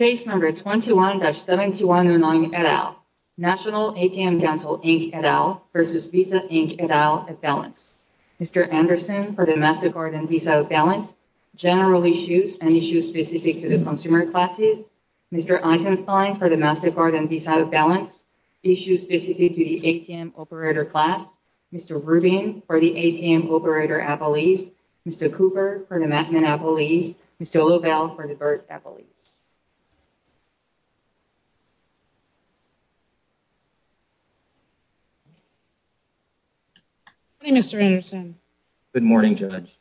Case No. 21-719 et al. National ATM Council, Inc. et al. v. Visa, Inc. et al. at Balance. Mr. Anderson for the MasterCard and Visa at Balance. General Issues and Issues Specific to the Consumer Classes. Mr. Eisenstein for the MasterCard and Visa at Balance. Issues Specific to the ATM Operator Class. Mr. Rubin for the ATM Operator at Belize. Mr. Cooper for the Macman at Belize. Ms. DeLavelle for the BERT at Belize. Good morning, Mr. Anderson. Good morning, Judge.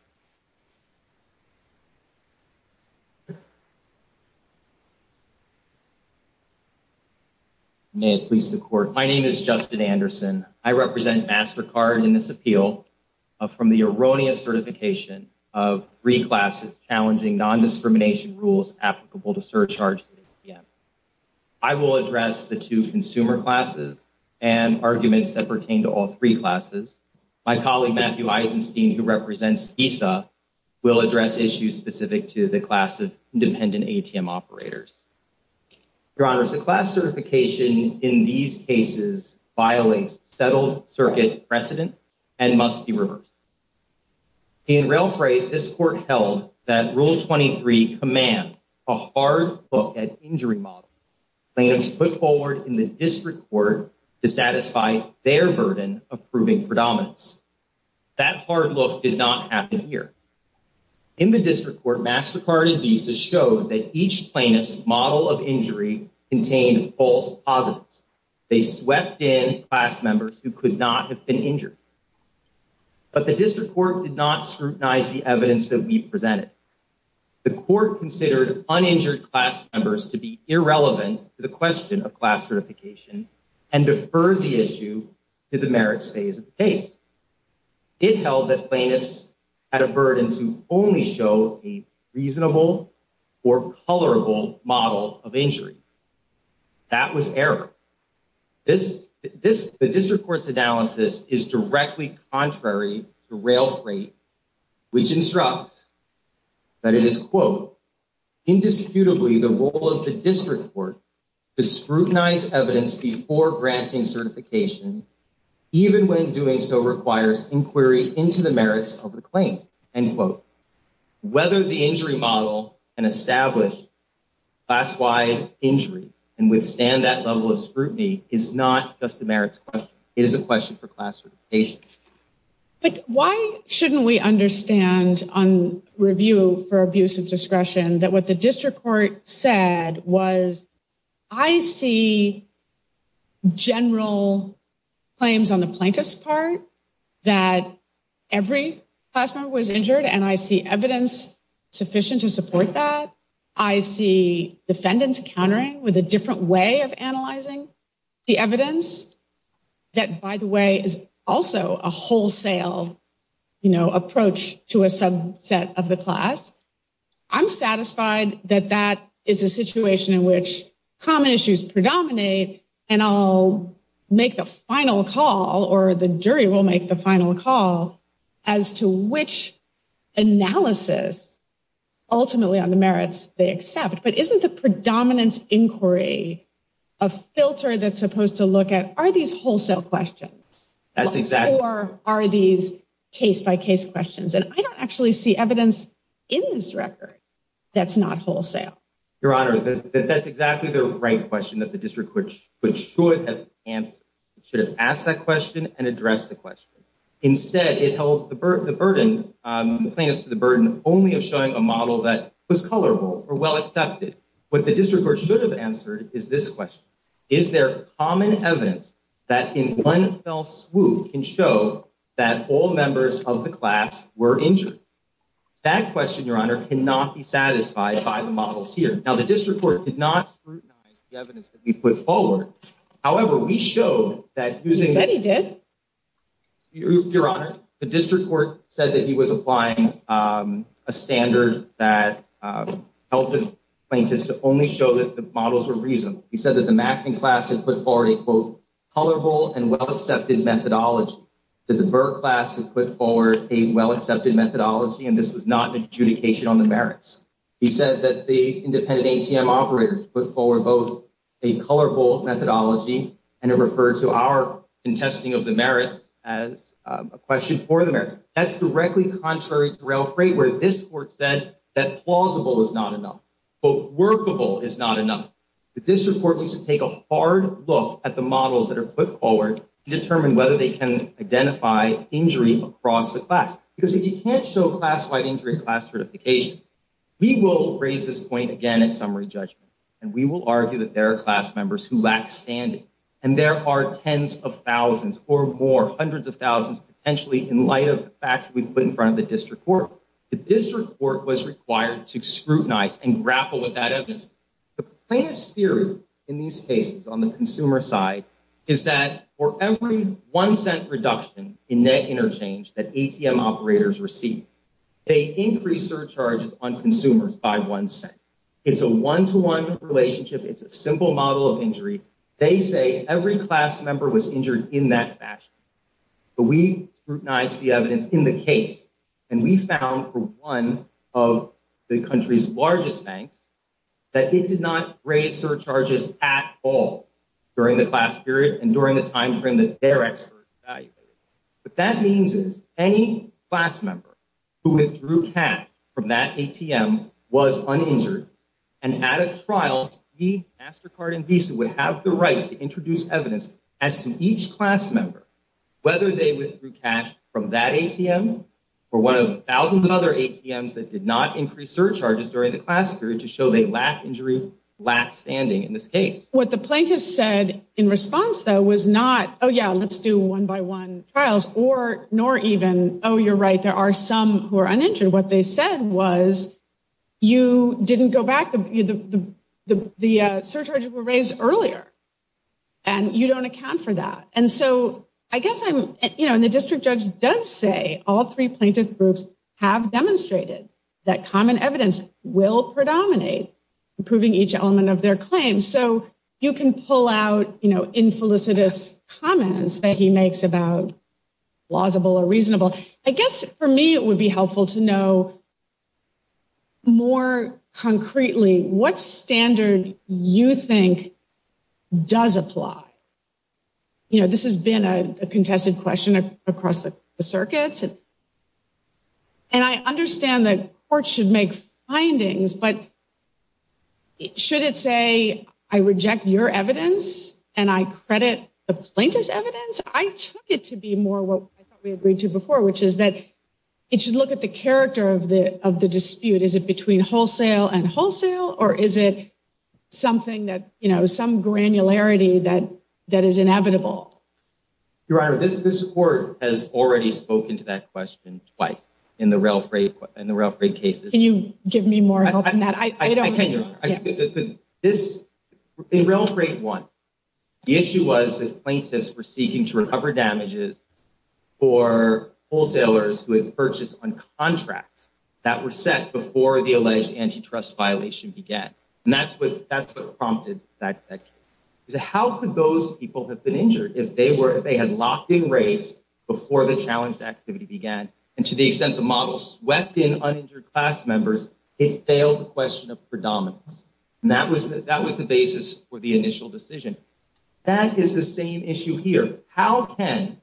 May it please the Court. My name is Justin Anderson. I represent MasterCard in this appeal from the Eronia Certification of three classes challenging nondiscrimination rules applicable to surcharge ATMs. I will address the two consumer classes and arguments that pertain to all three classes. My colleague, Matthew Eisenstein, who represents Visa, will address issues specific to the class of independent ATM operators. Your Honors, the class certification in these cases violates settled circuit precedent and must be reversed. In Ralefray, this Court held that Rule 23 commands a hard look at injury models. Claims put forward in the District Court to satisfy their burden of proving predominance. That hard look did not happen here. In the District Court, MasterCard and Visa showed that each plaintiff's model of injury contained false positives. They swept in class members who could not have been injured. But the District Court did not scrutinize the evidence that we presented. The Court considered uninjured class members to be irrelevant to the question of class certification and deferred the issue to the merits phase of the case. It held that plaintiffs had a burden to only show a reasonable or colorable model of injury. That was error. The District Court's analysis is directly contrary to Ralefray, which instructs that it is, quote, indisputably the role of the District Court to scrutinize evidence before granting certification, even when doing so requires inquiry into the merits of the claim, end quote. Whether the injury model can establish class-wide injury and withstand that level of scrutiny is not just a merits question. It is a question for class certification. But why shouldn't we understand on review for abuse of discretion that what the District Court said was, I see general claims on the plaintiff's part that every class member was injured, and I see evidence sufficient to support that. I see defendants countering with a different way of analyzing the evidence that, by the way, is also a wholesale, you know, approach to a subset of the class. I'm satisfied that that is a situation in which common issues predominate, and I'll make the final call, or the jury will make the final call, as to which analysis ultimately on the merits they accept. But isn't the predominance inquiry a filter that's supposed to look at, are these wholesale questions? Or are these case-by-case questions? And I don't actually see evidence in this record that's not wholesale. Your Honor, that's exactly the right question that the District Court should have answered. It should have asked that question and addressed the question. Instead, it held the burden, the claims to the burden only of showing a model that was colorful or well-accepted. What the District Court should have answered is this question. Is there common evidence that in one fell swoop can show that all members of the class were injured? That question, Your Honor, cannot be satisfied by the models here. Now, the District Court did not scrutinize the evidence that we put forward. However, we showed that using... You said you did. Your Honor, the District Court said that he was applying a standard that helped his plaintiffs to only show that the models were reasonable. He said that the Mackin class had put forward a, quote, colorful and well-accepted methodology. That the Burr class had put forward a well-accepted methodology, and this was not an adjudication on the merits. He said that the independent ACM operators put forward both a colorful methodology, and it referred to our contesting of the merits as a question for the merits. That's directly contrary to Rail Freight, where this Court said that plausible is not enough. Quote, workable is not enough. The District Court needs to take a hard look at the models that are put forward to determine whether they can identify injury across the class. Because if you can't show class-wide injury in class certifications, we will raise this point again in summary judgment, and we will argue that there are class members who lack standing. And there are tens of thousands or more, hundreds of thousands, potentially in light of the fact that we put in front of the District Court. The District Court was required to scrutinize and grapple with that evidence. The plainest theory in these cases on the consumer side is that for every one-cent reduction in net interchange that ACM operators receive, they increase surcharges on consumers by one cent. It's a one-to-one relationship. It's a simple model of injury. They say every class member was injured in that fashion. We scrutinized the evidence in the case, and we found for one of the country's largest banks that they did not raise surcharges at all during the class period and during the time frame that their experts evaluated. But that means if any class member who withdrew cash from that ACM was uninjured, and at its trial, the MasterCard and Visa would have the right to introduce evidence as to each class member, whether they withdrew cash from that ACM or one of thousands of other ACMs that did not increase surcharges during the class period to show they lack injury, lack standing in this case. What the plaintiffs said in response, though, was not, oh, yeah, let's do one-by-one trials, nor even, oh, you're right, there are some who are uninjured. What they said was you didn't go back, the surcharges were raised earlier, and you don't account for that. And so I guess I'm, you know, and the district judge does say all three plaintiff groups have demonstrated that common evidence will predominate in proving each element of their claim. So you can pull out, you know, infelicitous comments that he makes about plausible or reasonable. I guess for me it would be helpful to know more concretely what standard you think does apply. You know, this has been a contested question across the circuits. And I understand the court should make findings, but should it say I reject your evidence and I credit the plaintiff's evidence? I took it to be more what we agreed to before, which is that it should look at the character of the dispute. Is it between wholesale and wholesale? Or is it something that, you know, some granularity that is inevitable? Your Honor, this court has already spoken to that question twice in the Rail Freight cases. Can you give me more help in that? I don't know. I think this is, in Rail Freight 1, the issue was that plaintiffs were seeking to recover damages for wholesalers who had purchased on contracts that were set before the alleged antitrust violation began. And that's what prompted that section. How could those people have been injured if they had locked in rates before the challenge activity began? And to the extent the model swept in uninjured class members, it failed the question of predominance. And that was the basis for the initial decision. That is the same issue here. How can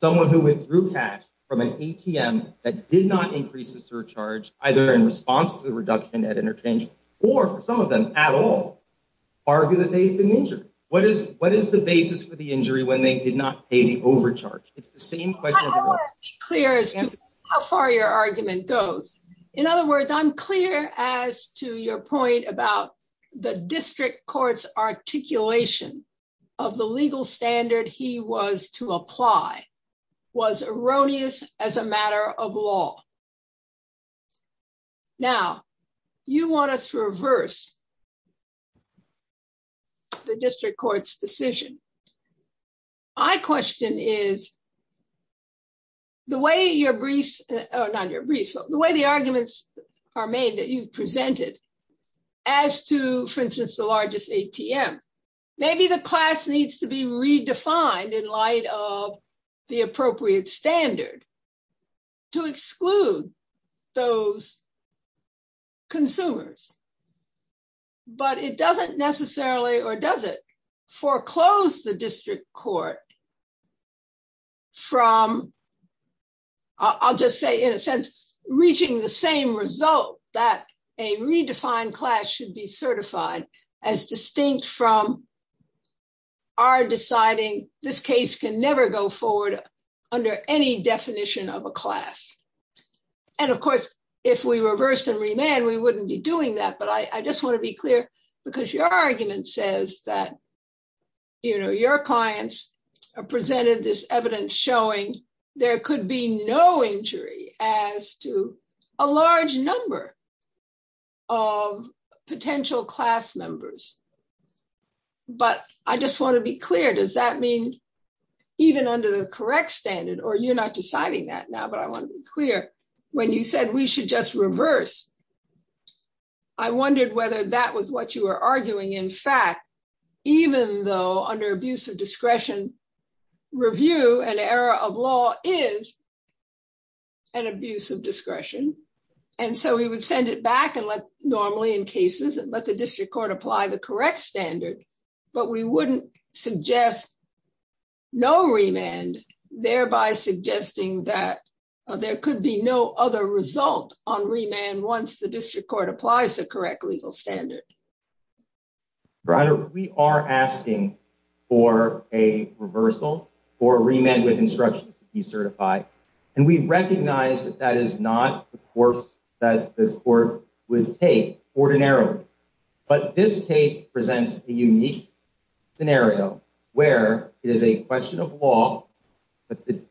someone who withdrew cash from an ATM that did not increase the surcharge, either in response to the reduction at interchange, or some of them at all, argue that they've been injured? What is the basis for the injury when they did not pay the overcharge? It's the same question. I don't want to be clear as to how far your argument goes. In other words, I'm clear as to your point about the district court's articulation of the legal standard he was to apply was erroneous as a matter of law. Now, you want us to reverse the district court's decision. My question is, the way the arguments are made that you've presented as to, for instance, the largest ATM, maybe the class needs to be redefined in light of the appropriate standard to exclude those consumers. But it doesn't necessarily, or does it, foreclose the district court from, I'll just say in a sense, reaching the same result that a redefined class should be certified, as distinct from our deciding this case can never go forward under any definition of a class. And, of course, if we reverse and remand, we wouldn't be doing that. But I just want to be clear, because your argument says that, you know, a large number of potential class members. But I just want to be clear, does that mean even under the correct standard, or you're not deciding that now, but I want to be clear, when you said we should just reverse, I wondered whether that was what you were arguing. In fact, even though under abuse of discretion, review and error of law is an abuse of discretion. And so we would send it back and let, normally in cases, let the district court apply the correct standard. But we wouldn't suggest no remand, thereby suggesting that there could be no other result on remand once the district court applies the correct legal standard. We are asking for a reversal or remand with instructions to be certified. And we recognize that that is not the course that the court would take ordinarily. But this case presents a unique scenario where it is a question of law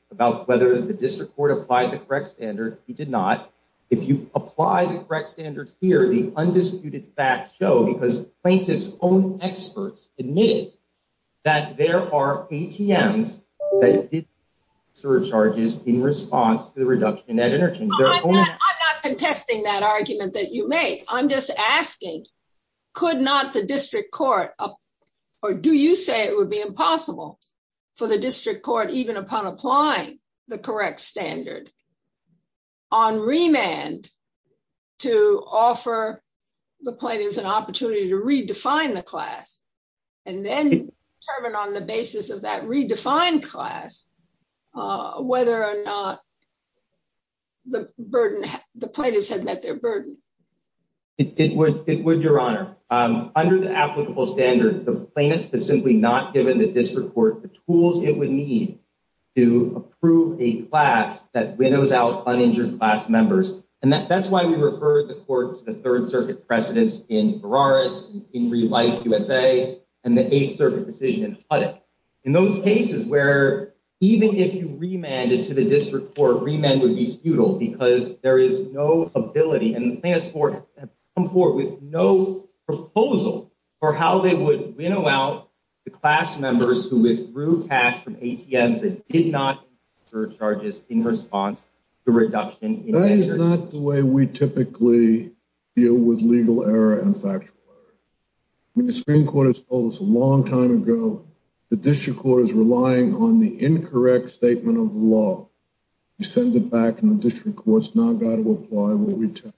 about whether the district court applied the correct standard. He did not. If you apply the correct standard here, the undisputed facts show, because plaintiff's own experts admit that there are ATMs that did not meet the surcharges in response to the reduction in energy. I'm not contesting that argument that you make. I'm just asking, could not the district court, or do you say it would be impossible for the district court, even upon applying the correct standard, on remand to offer the plaintiff an opportunity to redefine the class and then determine on the basis of that redefined class whether or not the plaintiff has met their burden? It would, Your Honor. Under the applicable standard, the plaintiff has simply not given the district court the tools it would need to approve a class that widows out uninjured class members. And that's why we referred the court to the Third Circuit precedents in Ferraris and King v. Rice, USA, and the Eighth Circuit decision in Puddock. In those cases where even if you remanded to the district court, remand would be futile because there is no ability, and the plaintiff's court has come forward with no proposal for how they would winnow out the class members who withdrew cash from ATMs that did not meet their surcharges in response to the reduction in energy. That is not the way we typically deal with legal error and factual error. When the Supreme Court has told us a long time ago the district court is relying on the incorrect statement of law, you send it back and the district court's now got to apply what we tell them.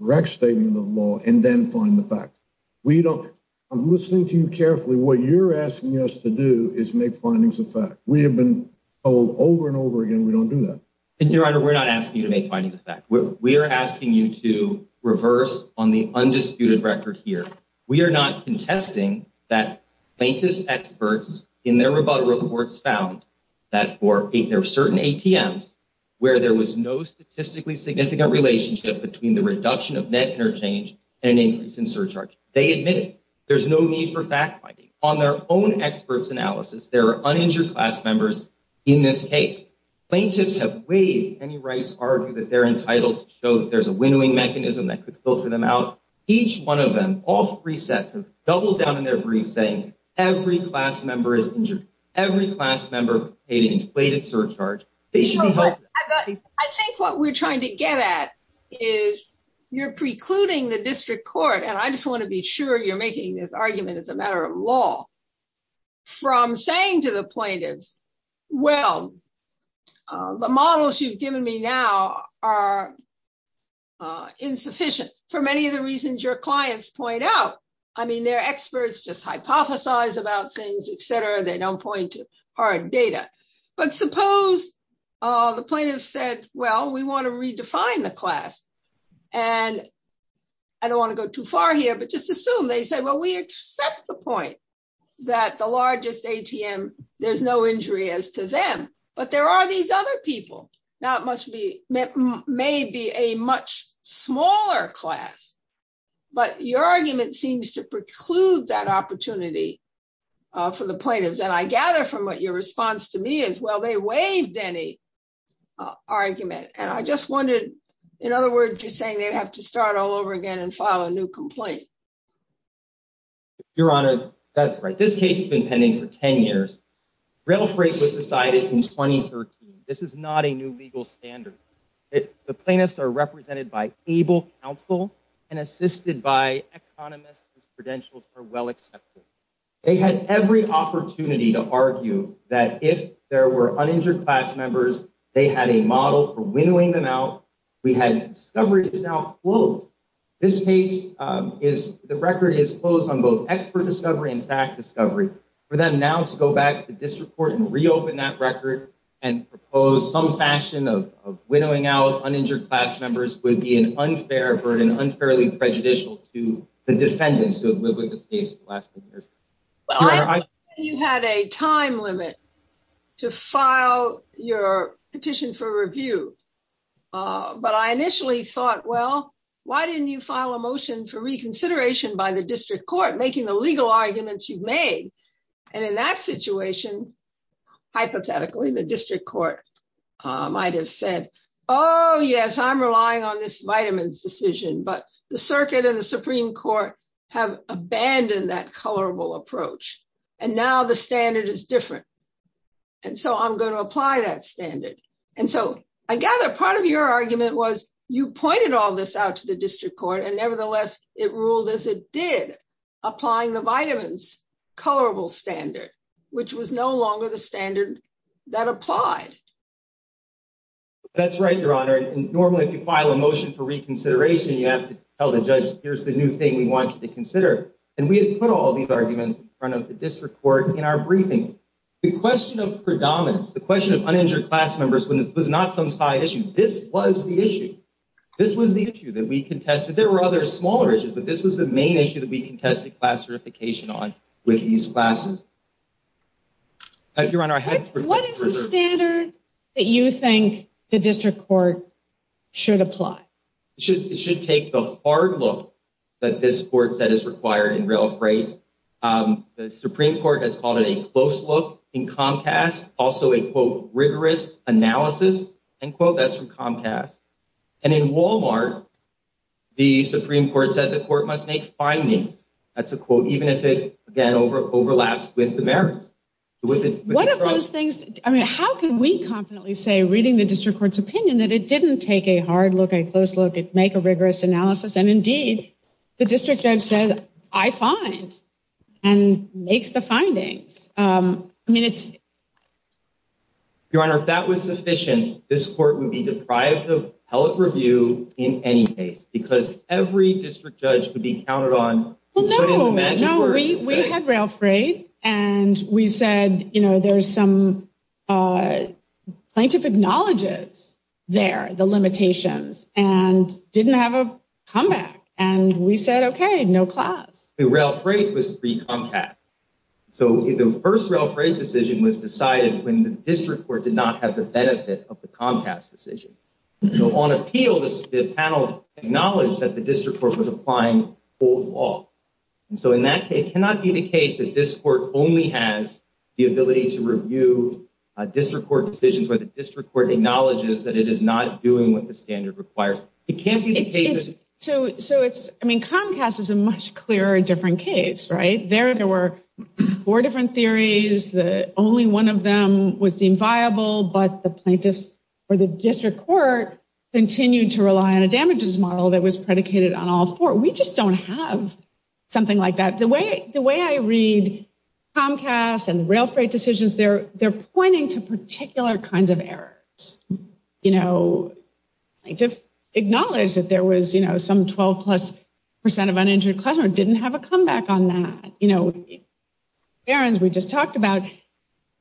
The correct statement of law, and then find the fact. I'm listening to you carefully. What you're asking us to do is make findings of fact. We have been told over and over again we don't do that. Mr. Your Honor, we're not asking you to make findings of fact. We are asking you to reverse on the undisputed record here. We are not contesting that basis experts in their rebuttal reports found that for certain ATMs where there was no statistically significant relationship between the reduction of net interchange and increase in surcharges. They admit there's no need for fact-finding. On their own experts' analysis, there are uninjured class members in this case. Plaintiffs have waived any rights argued that they're entitled to show that there's a winnowing mechanism that could filter them out. Each one of them, all three sets have doubled down in their briefs saying every class member paid a surcharge. I think what we're trying to get at is you're precluding the district court, and I just want to be sure you're making this argument as a matter of law, from saying to the plaintiffs, well, the models you've given me now are insufficient for many of the reasons your clients point out. I mean, their experts just hypothesize about things, et cetera. They don't point to hard data. But suppose the plaintiffs said, well, we want to redefine the class. And I don't want to go too far here, but just assume they said, well, we accept the point that the largest ATM, there's no injury as to them. But there are these other people. Now, it may be a much smaller class, but your argument seems to preclude that opportunity for the plaintiffs. And I gather from what your response to me is, well, they waived any argument. And I just wondered, in other words, you're saying they'd have to start all over again and file a new complaint. Your Honor, that's right. This case has been pending for 10 years. It was ratified in 2013. This is not a new legal standard. The plaintiffs are represented by able counsel and assisted by economists whose credentials are well accepted. They had every opportunity to argue that if there were uninjured class members, they had a model for winnowing them out. We had discoveries now. This case is, the record is closed on both expert discovery and fact discovery. For them now to go back to this report and reopen that record and propose some fashion of winnowing out uninjured class members would be an unfair burden, unfairly prejudicial to the defendants who have lived with this case for the last 10 years. Your Honor, I- You had a time limit to file your petition for review. But I initially thought, well, why didn't you file a motion for reconsideration by the district court, making the legal arguments you've made? And in that situation, hypothetically, the district court might have said, oh, yes, I'm relying on this vitamins decision. But the circuit and the Supreme Court have abandoned that colorable approach. And now the standard is different. And so I'm going to apply that standard. And so I gather part of your argument was you pointed all this out to the district court and nevertheless, it ruled as it did, applying the vitamins colorable standard, which was no longer the standard that applied. That's right, Your Honor. Normally, if you file a motion for reconsideration, you have to tell the judge, here's the new thing we want you to consider. And we had put all these arguments in front of the district court in our briefing. The question of predominance, the question of uninjured class members was not some side issue. This was the issue. This was the issue that we contested. There were other smaller issues, but this was the main issue that we contested class certification on with these classes. Your Honor, I had to... What is the standard that you think the district court should apply? It should take the hard look that this court said is required in real appraise. The Supreme Court has called it a close look in Comcast, also a, quote, rigorous analysis, end quote, that's from Comcast. And in Walmart, the Supreme Court said the court must make findings. That's a quote, even if it, again, overlaps with the merits. One of those things... How can we confidently say, reading the district court's opinion, that it didn't take a hard look, a close look, make a rigorous analysis and, indeed, the district judge said, I find and makes the findings. I mean, it's... Your Honor, if that was sufficient, this court would be deprived of public review in any case because every district judge would be counted on... No, we have real appraise and we said, you know, there's some scientific knowledge there, the limitations, and didn't have a comeback. And we said, okay, no class. The real appraise was the Comcast. So, the first real appraise decision was decided when the district court did not have the benefit of the Comcast decision. So, on appeal, the panel acknowledged that the district court was applying old law. So, in that case, it cannot be the case that this court only has the ability to review district court decisions when the district court acknowledges that it is not doing what the standard requires. It can't be the case... So, it's... I mean, Comcast is a much clearer, different case, right? There, there were four different theories. Only one of them was deemed viable, but the plaintiff or the district court continued to rely on a damages model that was predicated on all four. We just don't have something like that. The way I read Comcast and real appraise decisions, they're pointing to particular kinds of errors. You know, they just acknowledged that there was, you know, some 12 plus percent of uninjured classroom didn't have a comeback on that. You know, we just talked about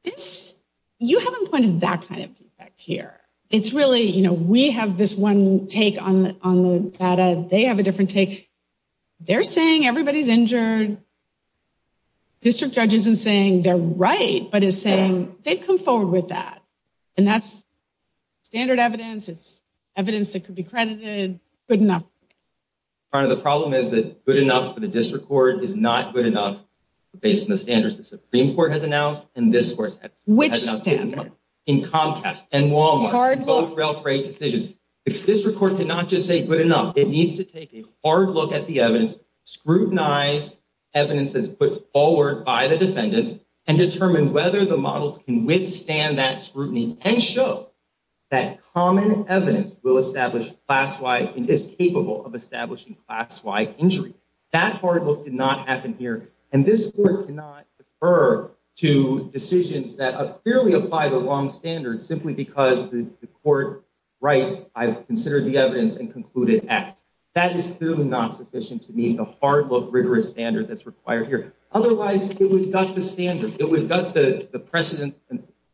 this. You haven't pointed that kind of defect here. It's really, you know, we have this one take on the data. They have a different take. They're saying everybody's injured. District judge isn't saying they're right, but is saying they've come forward with that. And that's standard evidence. It's evidence that could be credited. Good enough. Part of the problem is that good enough for the district court is not good enough based on the standards the Supreme Court has announced and this court has not taken place. In Comcast and Walmart both real appraise decisions. If this report did not just say good enough, it needs to take a hard look at the evidence, scrutinize evidence that's put forward by the defendants, and determine whether the models can withstand that scrutiny and show that common evidence will establish class-wise and is capable of establishing class-wide injuries. That hard look did not happen here. And this court did not refer to decisions that clearly apply the wrong standards simply because the court writes I've considered the evidence and concluded X. That is still not sufficient to meet a hard look rigorous standard that's required here. Otherwise if we've got the standards, if we've got the precedence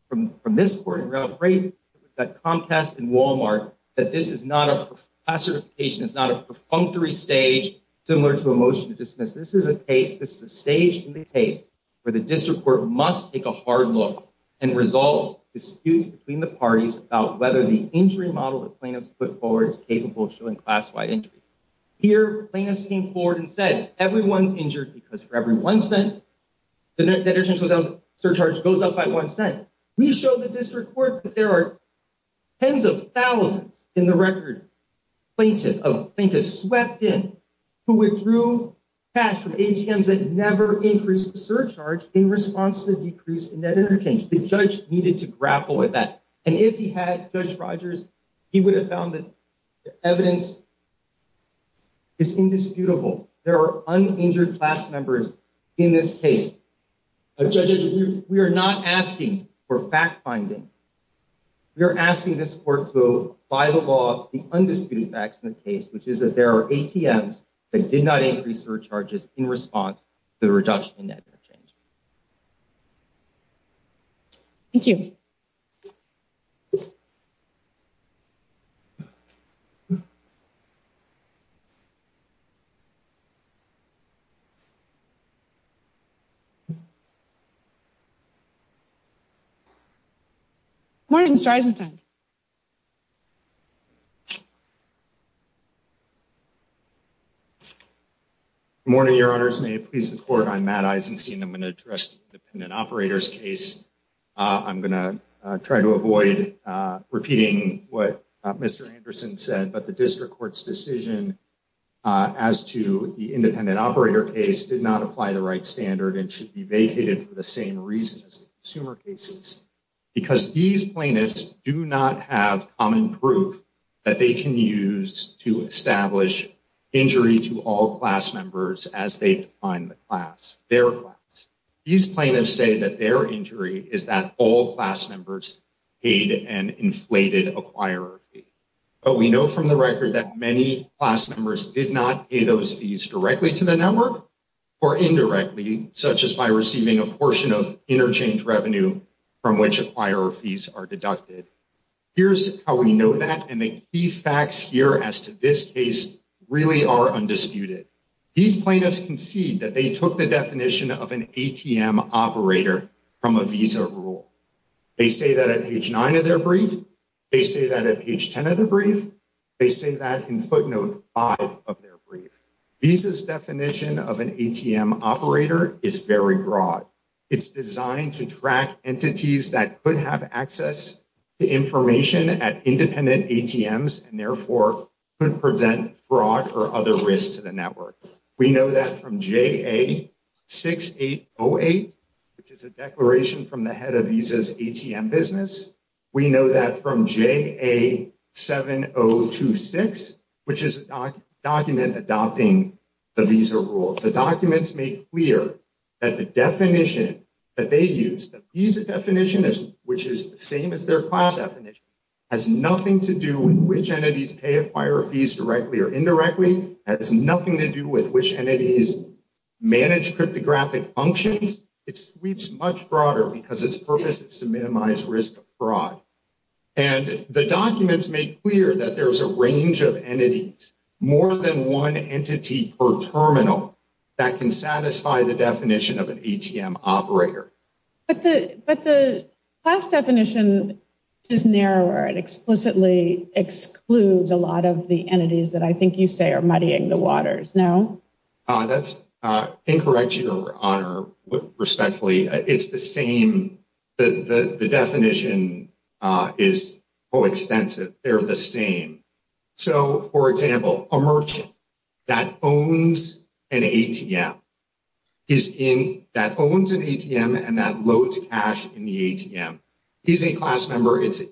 from this court, you're not afraid that Comcast and Walmart, that this is not a class certification, it's not a perfunctory stage similar to a motion to dismiss. This is a case, this is a stage in the case where the district court must take a hard look and resolve disputes between the parties about whether the injury model that plaintiffs put forward is capable of showing class-wide injuries. Here plaintiffs came forward and said everyone is injured because for every one cent the deterrence without surcharge goes up by one cent. We showed the district court that there are tens of thousands in the record of plaintiffs swept in who withdrew cash from ATMs that never increased the surcharge in response to the decrease in net interchange. The judge needed to grapple with that. And if he had, Judge Rogers, he would have found that the evidence is indisputable. There are uninjured class members in this case. We are not asking for fact-finding. We are asking this court to file off the undisputed facts in this case, which is that there are ATMs that did not increase surcharges in response to the reduction in net interchange. Thank you. I'm going to try to avoid repeating what Mr. Anderson said, but the district court's decision as to the independent operator case did not apply the right standard and should be vacated for the same reasons as the consumer cases. Because these plaintiffs do not have common proof that they can use to establish injury to all class members as they find the class. These plaintiffs say that their injury is that all class members paid an inflated acquirer fee. But we know from the record that many class members did not pay those fees directly to the network or indirectly, such as by receiving a portion of interchange revenue from which acquirer fees are deducted. Here's how we know that, and the key facts here as to this case really are undisputed. These plaintiffs concede that they took the information from a Visa rule. They say that at page 9 of their brief, they say that at page 10 of the brief, they say that in footnote 5 of their brief. Visa's definition of an ATM operator is very broad. It's designed to track entities that could have access to information at independent ATMs and therefore could present fraud or other risks to the network. We know that from JA-6808, which is a declaration from the head of Visa's ATM business. We know that from JA-7026, which is a document adopting the Visa rule. The documents make clear that the definition that they use, the Visa definition, which is the same as their class definition, has nothing to do with which entities pay acquirer fees directly or indirectly. It has nothing to do with which entities manage cryptographic functions. It's much broader because its purpose is to minimize risk of fraud. And the documents make clear that there's a range of entities, more than one entity per terminal, that can satisfy the definition of an ATM operator. But the class definition is narrower and explicitly excludes a lot of the entities that I think you say are muddying the waters. No? That's incorrect, Your Honor, respectfully. It's the same. The definition is coextensive. They're the same. So, for example, a merchant that owns an ATM is in... that owns an ATM and that loads cash in the ATM. He's a class member. It's a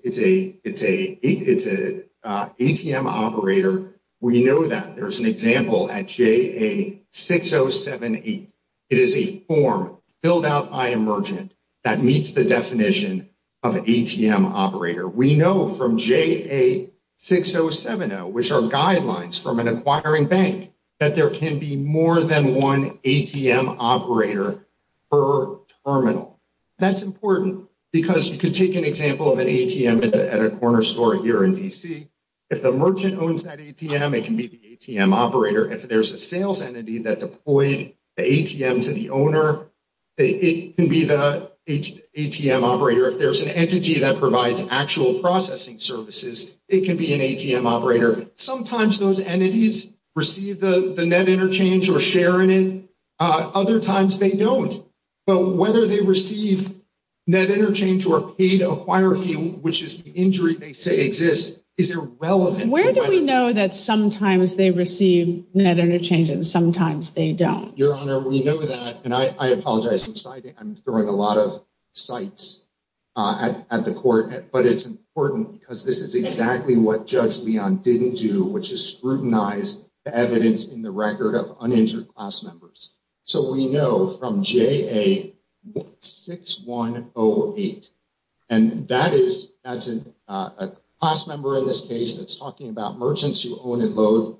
ATM operator. We know that. There's an example at JA-6078. It is a form filled out by a merchant that meets the definition of an ATM operator. We know from JA-6070, which are guidelines from an acquiring bank, that there can be more than one ATM operator per terminal. That's important because you could take an example of an ATM at a corner store here in D.C. If the merchant owns that ATM, it can be the ATM operator. If there's a sales entity that deployed the ATM to the owner, it can be the ATM operator. If there's an entity that provides actual processing services, it can be an ATM operator. Sometimes those entities receive the net interchange or share in it. Other times they don't. So, whether they receive net interchange or are paid to acquire it, which is the injury they say exists, is irrelevant. Where do we know that sometimes they receive net interchange and sometimes they don't? Your Honor, we know that, and I apologize since I'm throwing a lot of sights at the court, but it's important because this is exactly what Judge Leon didn't do, which is scrutinize evidence in the record of uninjured class members. So, we know from JA-6108, and that is a class member in this case that's talking about merchants who own and load,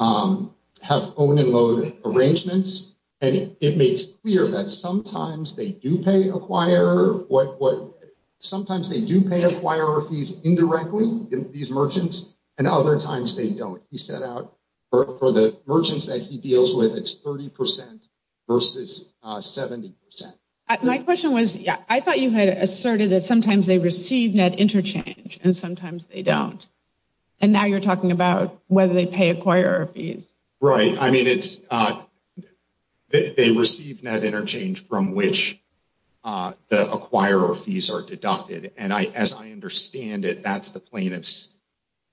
have own and load arrangements, and it makes clear that sometimes they do pay acquire or sometimes they do pay acquire fees indirectly to these merchants, and other times they don't. He set out for the merchants that he deals with, it's 30% versus 70%. My question was, I thought you had asserted that sometimes they receive net interchange and sometimes they don't, and now you're talking about whether they pay acquire or fees. Right, I mean it's, they receive net interchange from which the acquire or fees are deducted, and as I understand it, that's the plaintiffs,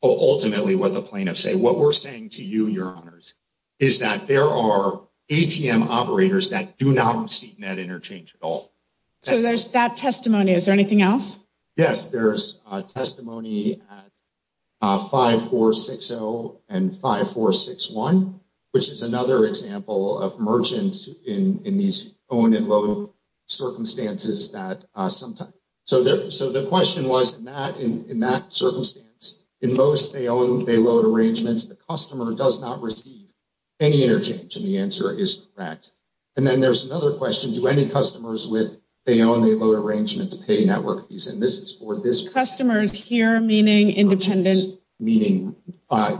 ultimately what the plaintiffs say. What we're saying to you, Your Honors, is that there are ATM operators that do not receive net interchange at all. So there's that testimony. Is there anything else? Yes, there's testimony at 5460 and 5461, which is another example of merchants in these own and load circumstances that sometimes, so the question was in that circumstance, in most they own, they load arrangements, the customer does not receive any interchange, and the answer is that. And then there's another question, do any customers with, they own, they load arrangements, pay network fees, and this is for this. Customers here, meaning independent. Meaning,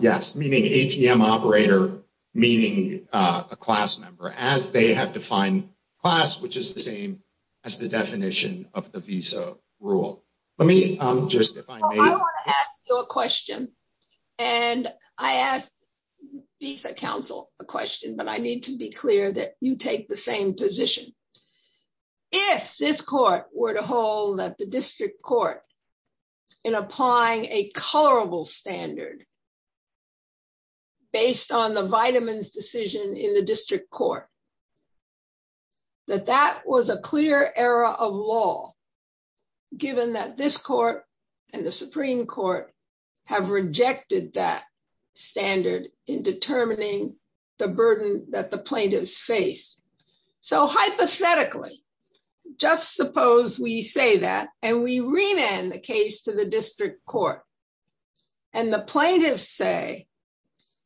yes, meaning ATM operator, meaning a class member, as they have defined class, which is the same as the definition of the Visa rule. Let me just, if I may. I want to ask you a question, and I asked Visa Council a question, but I need to be clear that you take the same position. If this court were to hold that the district court in applying a colorable standard based on the vitamins decision in the district court, that that was a clear error of law given that this court and the Supreme Court have rejected that standard in determining the burden that the plaintiffs face. So hypothetically, just suppose we say that, and we remand the case to the district court, and the plaintiffs say,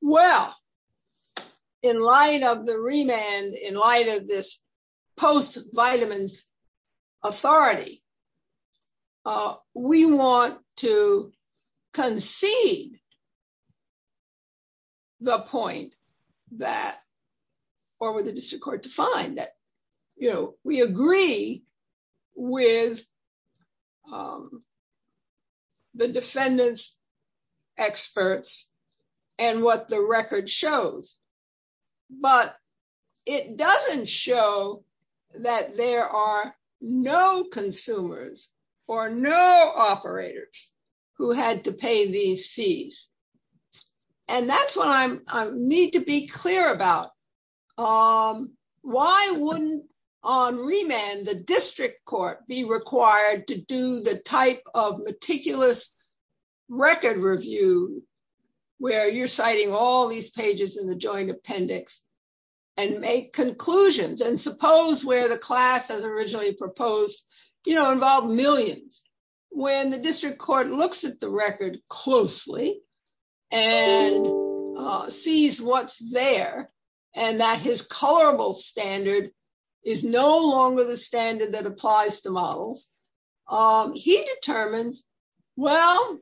well, in light of the remand, in light of this post vitamins authority, we want to concede the point that, or the district court to find that we agree with the defendant's experts and what the record shows, but it doesn't show that there are no consumers or no operators who had to pay these fees. And that's what I need to be clear about. Why wouldn't on remand the district court be required to do the type of meticulous record review where you're citing all these pages in the joint appendix and make conclusions? And suppose where the class has originally proposed, you know, involved millions. When the district court looks at the record closely, and sees what's there, and that his colorable standard is no longer the standard that applies to models, he determines, well,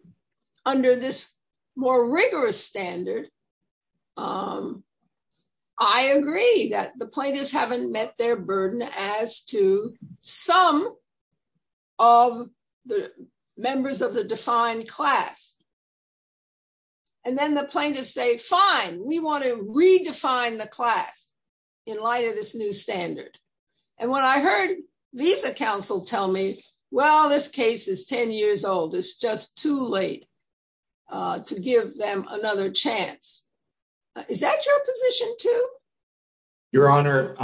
under this more rigorous standard, I agree that the plaintiffs haven't met their burden as to some of the members of the defined class. And then the plaintiffs say, fine, we want to redefine the class in light of this new standard. And when I heard the counsel tell me, well, this case is 10 years old. It's just too late to give them another chance. Is that your position too? Your Honor,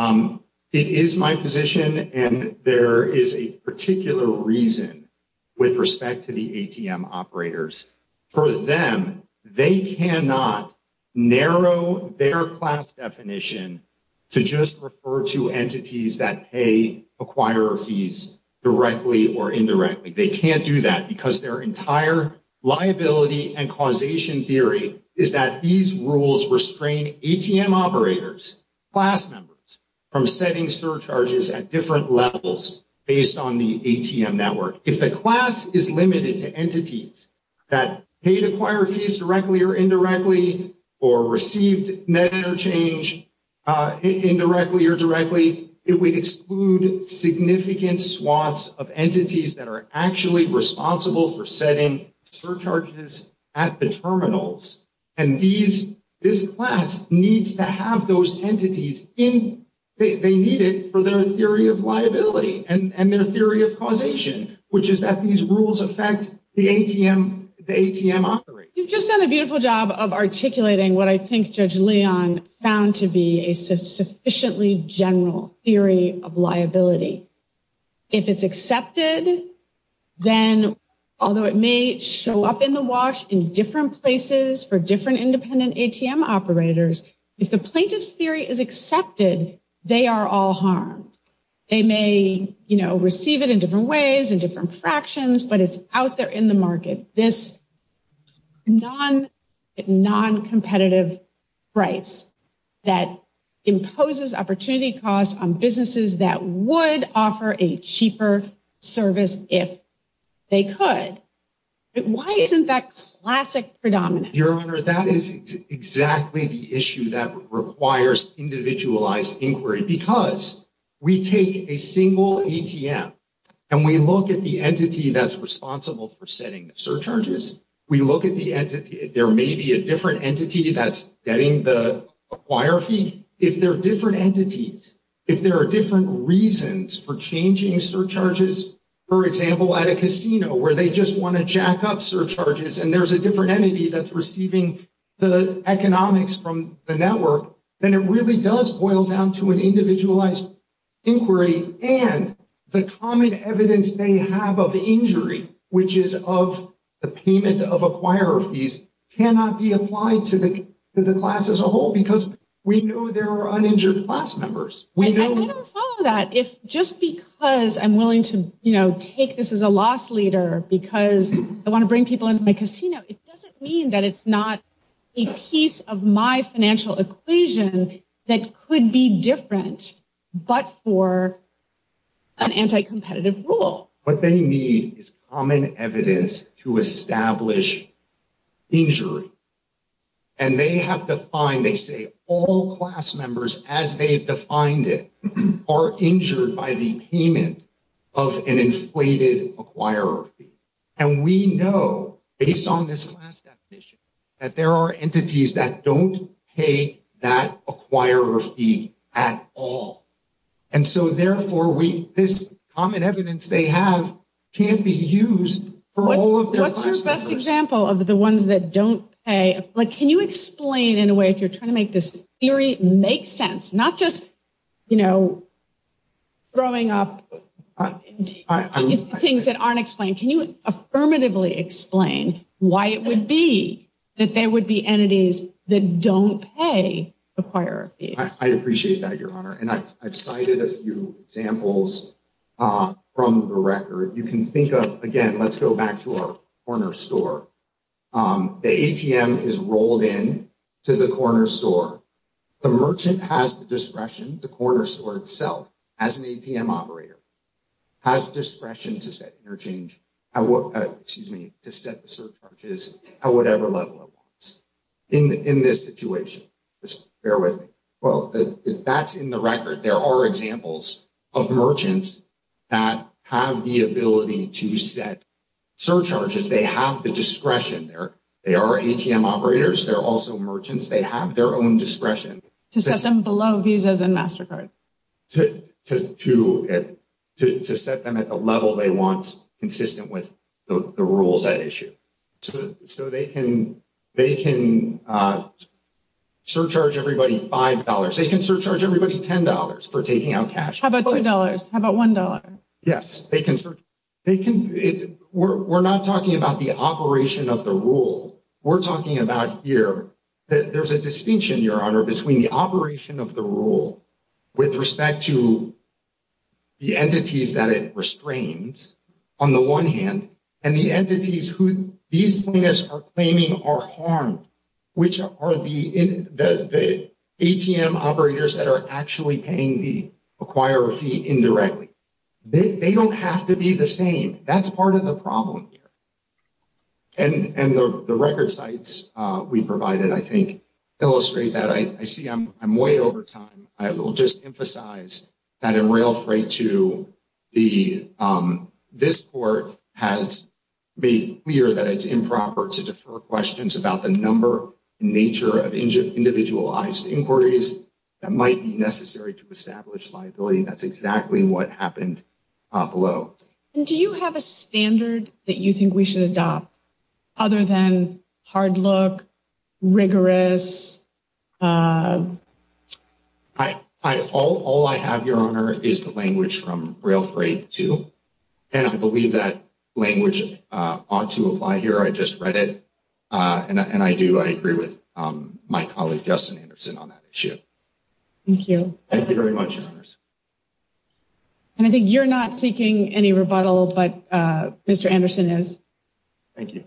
it is my position and there is a particular reason with respect to the ATM operators. For them, they cannot narrow their class definition to just refer to entities that pay, acquire fees directly or indirectly. They can't do that because their entire liability and causation theory is that these rules restrain ATM operators, class members, from setting surcharges at different levels based on the ATM network. If the class is limited to entities that may acquire fees directly or indirectly or received net interchange indirectly or directly, it would exclude significant swaths of entities that are actually responsible for setting surcharges at the terminals. And this class needs to have those entities they need it for their theory of liability and their theory of causation, which is that these rules affect the ATM operators. You've just done a beautiful job of articulating what I think Judge Leon found to be a sufficiently general theory of liability. If it's accepted, then, although it may show up in the wash in different places for different independent ATM operators, if the plaintiff's theory is accepted, they are all harmed. They may, you know, receive it in different ways, in different fractions, but it's out there in the market. This non-competitive price that imposes opportunity costs on businesses that would offer a cheaper service if they could. Why isn't that a classic predominance? Your Honor, that is exactly the issue that requires individualized inquiry, because we take a single ATM, and we look at the entity that's responsible for setting the surcharges, we look at the entity, there may be a different entity that's getting the acquire fee. If there are different entities, if there are different reasons for changing surcharges, for example, at a casino where they just want to jack up surcharges and there's a different entity that's receiving the economics from the network, then it really does boil down to an individualized inquiry, and the common evidence they have of injury, which is of the payment of acquirer fees, cannot be applied to the class as a whole, because we know there are uninjured class members. I would follow that. Just because I'm willing to take this as a loss leader because I want to bring people into my casino, it doesn't mean that it's not a piece of my financial equation that could be different, but for an anti-competitive rule. What they need is common evidence to establish injury, and they have defined, they say, all class members, as they've defined it, are injured by the payment of an inflated acquirer fee. And we know, based on this class definition, that there are entities that don't pay that acquirer fee at all. And so, therefore, this common evidence they have can't be used for all of their classes. What's your best example of the ones that don't pay? Can you explain, in a way, if you're trying to make this theory make sense, not just throwing up things that aren't explained. Can you affirmatively explain why it would be that there would be entities that don't pay the acquirer fee? I appreciate that, Your Honor, and I've cited a few examples from the record. You can think of, again, let's go back to our corner store. The ATM is rolled in to the corner store. The merchant has the discretion, the corner store itself, as an ATM operator, has discretion to set surcharges at whatever level it wants. In this situation, just bear with me. If that's in the record, there are examples of merchants that have the ability to set surcharges. They have the discretion. They are ATM operators. They're also able to use their discretion to set them below Visa and MasterCard to set them at the level they want consistent with the rules at issue. They can surcharge everybody $5. They can surcharge everybody $10 for taking out cash. How about $2? How about $1? Yes. We're not talking about the operation of the rule. We're talking about here that there's a distinction, Your Honor, between the operation of the rule with respect to the entities that it restrains, on the one hand, and the entities who these plaintiffs are claiming are harmed, which are the ATM operators that are actually paying the acquirer fee indirectly. They don't have to be the same. That's part of the problem here. The record sites we provided, I think, illustrate that. I see I'm way over time. I will just emphasize that a rail freight to this court has made clear that it's improper to defer questions about the number and nature of individualized inquiries that might be necessary to establish liability. That's exactly what happened below. Do you have a other than hard look, rigorous... I have, Your Honor, is the language from rail freight to... I believe that language ought to apply here. I just read it, and I do. I agree with my colleague, Justin Anderson, on that issue. Thank you. Thank you very much, Anderson. I think you're not seeking any rebuttal, but Mr. Anderson is. Thank you.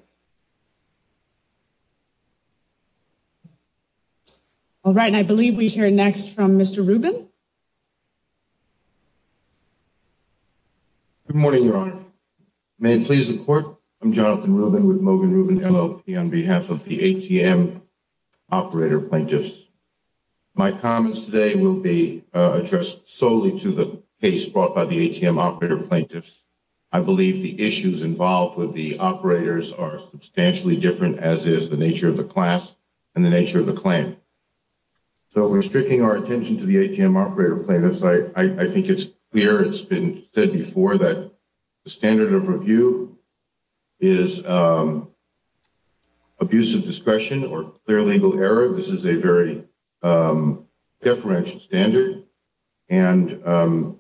All right. I believe we hear next from Mr. Rubin. Good morning, Your Honor. May it please the court? I'm Jonathan Rubin with Mogen Rubin LLC on behalf of the ATM operator plaintiffs. My comments today will be addressed solely to the case brought by the plaintiffs. The issues involved with the operators are substantially different, as is the nature of the class and the nature of the claim. We're stricking our attention to the ATM operator plaintiffs. I think it's clear. It's been said before that the standard of review is abusive discretion or clear legal error. This is a very deferential standard, and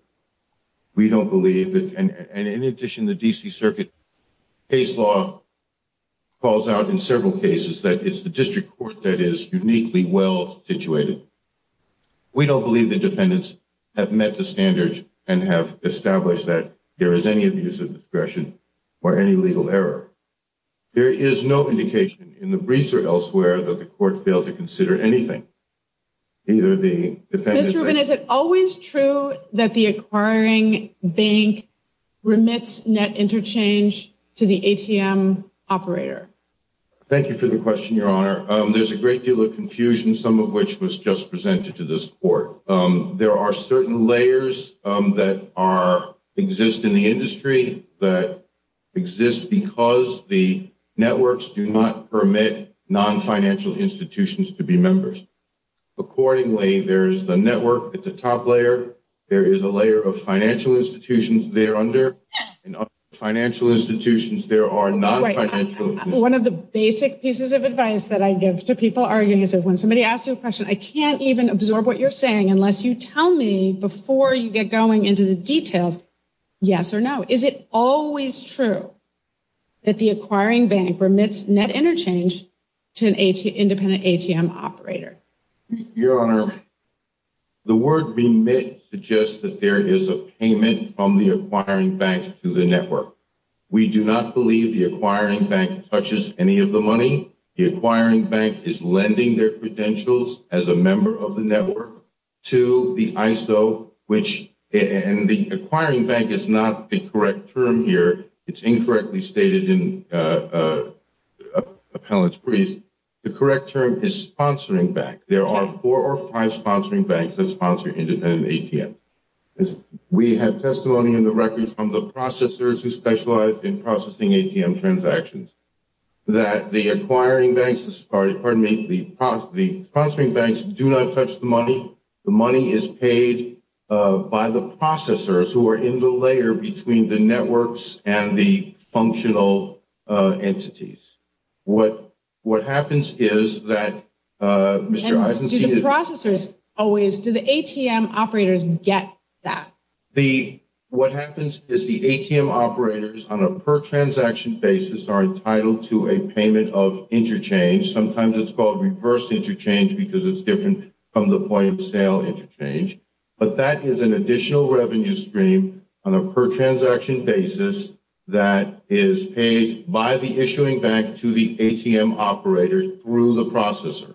we don't believe that, and in addition, the D.C. Circuit case law calls out in several cases that it's the district court that is uniquely well situated. We don't believe the defendants have met the standards and have established that there is any abusive discretion or any legal error. There is no indication in the briefs or elsewhere that the court failed to consider anything. Mr. Rubin, is it always true that the acquiring bank remits net interchange to the ATM operator? Thank you for the question, Your Honor. There's a great deal of confusion, some of which was just presented to this court. There are certain layers that exist in the industry that exist because the networks do not permit non-financial institutions to be members. Accordingly, there's the network at the top layer, there is a layer of financial institutions there under, and other financial institutions there are non-financial institutions. One of the basic pieces of advice that I give to people arguing is that when somebody asks you a question, I can't even absorb what you're saying unless you tell me before you get going into the details, yes or no. Is it always true that the acquiring bank remits net interchange to the independent ATM operator? Your Honor, the word remit suggests that there is a payment from the acquiring bank to the network. We do not believe the acquiring bank touches any of the money. The acquiring bank is lending their credentials as a member of the network to the ISO, which and the acquiring bank is not the correct term here. It's incorrectly stated in Appellate's brief. The correct term is sponsoring bank. There are four or five sponsoring banks that sponsor independent ATM. We have testimony in the records from the processors who specialize in processing ATM transactions that the acquiring banks, pardon me, the sponsoring banks do not touch the money. The money is paid by the processors who are in the layer between the networks and the parties. What happens is that Mr. Eisenstein... And do the processors always, do the ATM operators get that? What happens is the ATM operators on a per transaction basis are entitled to a payment of interchange. Sometimes it's called reverse interchange because it's different from the point of sale interchange. But that is an additional revenue stream on a per transaction basis that is paid by the issuing bank to the ATM operator through the processor.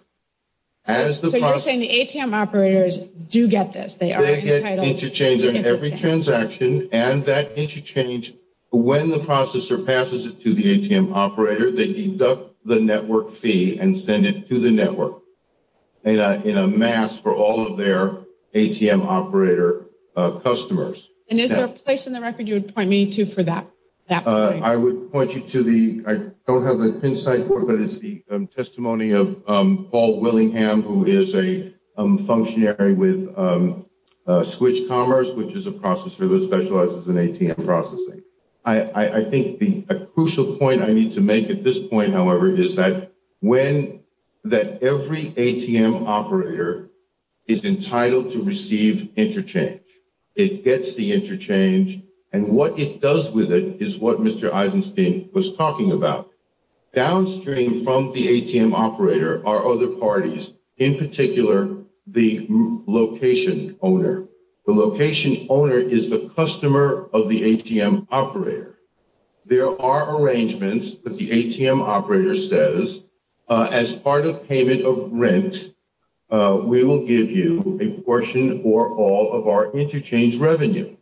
So you're saying the ATM operators do get this. They are entitled to interchange. They get interchange on every transaction and that interchange when the processor passes it to the ATM operator, they deduct the network fee and send it to the network en masse for all of their ATM operator customers. And is there a place in the record you would point to? I don't have the inside but it's the testimony of Paul Willingham who is a functionary with Switch Commerce which is a processor that specializes in ATM processing. I think the crucial point I need to make at this point, however, is that every ATM operator is entitled to receive interchange. It gets the interchange and what it does with it is what Mr. Eisenstein was talking about. Downstream from the ATM operator are other parties, in particular the location owner. The location owner is the customer of the ATM operator. There are arrangements that the ATM operator says as part of payment of rent we will give you a portion or all of our interchange revenue.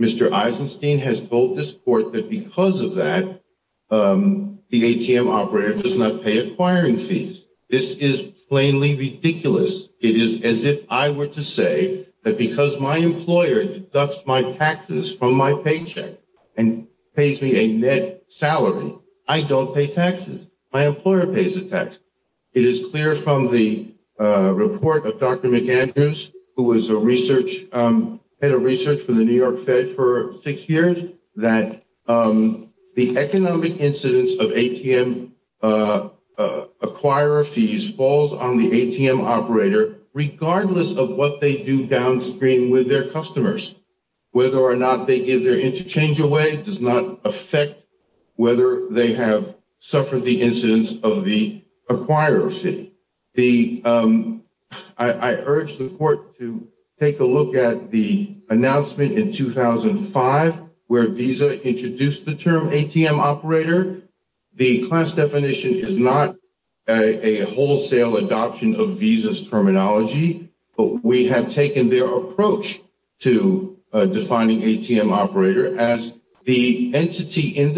Mr. Eisenstein has bolded this report that because of that the ATM operator does not pay acquiring fees. This is plainly ridiculous. It is as if I were to say that because my employer deducts my taxes from my paycheck and pays me a net salary, I don't pay taxes. My employer pays the taxes. It is clear from the report of Dr. McAndrews who was a research head of research for the New York Fed for six years that the economic incidence of ATM acquirer fees falls on the ATM operator regardless of what they do downstream with their customers. Whether or not they give their interchange away does not affect whether they have suffered the incidence of the acquirer fee. The I urge the court to take a look at the announcement in 2005 where Visa introduced the term ATM operator. The class definition is not a wholesale adoption of Visa's terminology. We have taken their approach to defining ATM operator as the entity in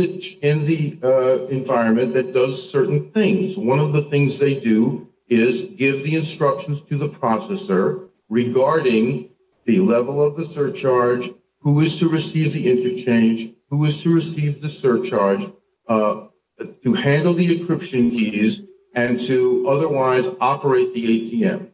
the environment that does certain things. One of the things they do is give the instructions to the processor regarding the level of the surcharge, who is to receive the interchange, who is to receive the surcharge, to handle the encryption keys, and to otherwise operate the ATM.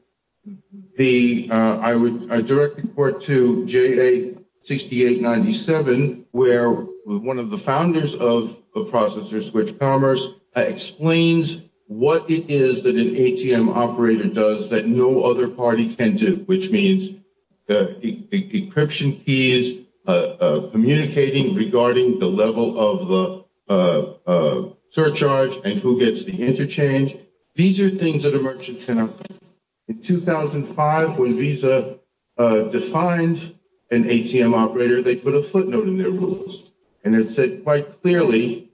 I direct the court to JA 6897 where one of the founders of the ATM operator tenant. This means what it is that an ATM operator does that no other party tends to, which means the encryption keys, communicating regarding the level of the surcharge and who gets the interchange. These are things that a merchant tenant in 2005 when Visa defines an ATM operator, they put a footnote in their rules and it said quite clearly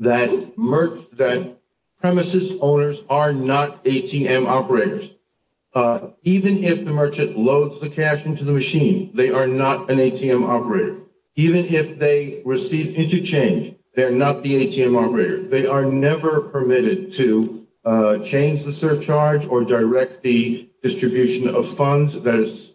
that premises owners are not ATM operators. Even if the merchant loads the cash into the machine, they are not an ATM operator. Even if they receive interchange, they're not the ATM operator. They are never permitted to change the surcharge or direct the distribution of funds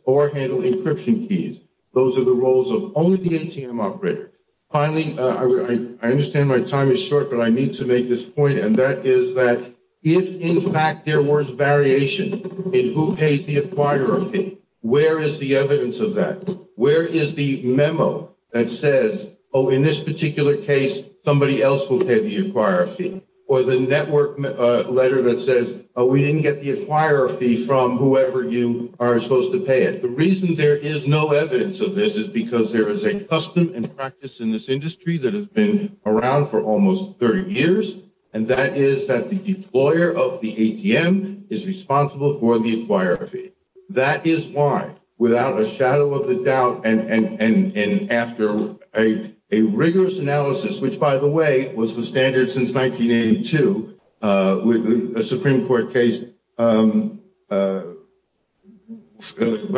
or handle encryption keys. Those are the roles of only the ATM operator. Finally, I understand my time is short, but I need to make this point and that is that if in fact there was variation in who paid the acquirer fee, where is the evidence of that? Where is the memo that says, oh, in this particular case, somebody else will pay the acquirer fee? Or the network letter that says, oh, we didn't get the acquirer fee from whoever you are supposed to pay it. The reason there is no evidence of this is because there is a custom and practice in this industry that has been around for almost 30 years, and that is that the employer of the ATM is responsible for the acquirer fee. That is why, without a shadow of a doubt and after a rigorous analysis, which by the way was the standard since 1982, a Supreme Court case by the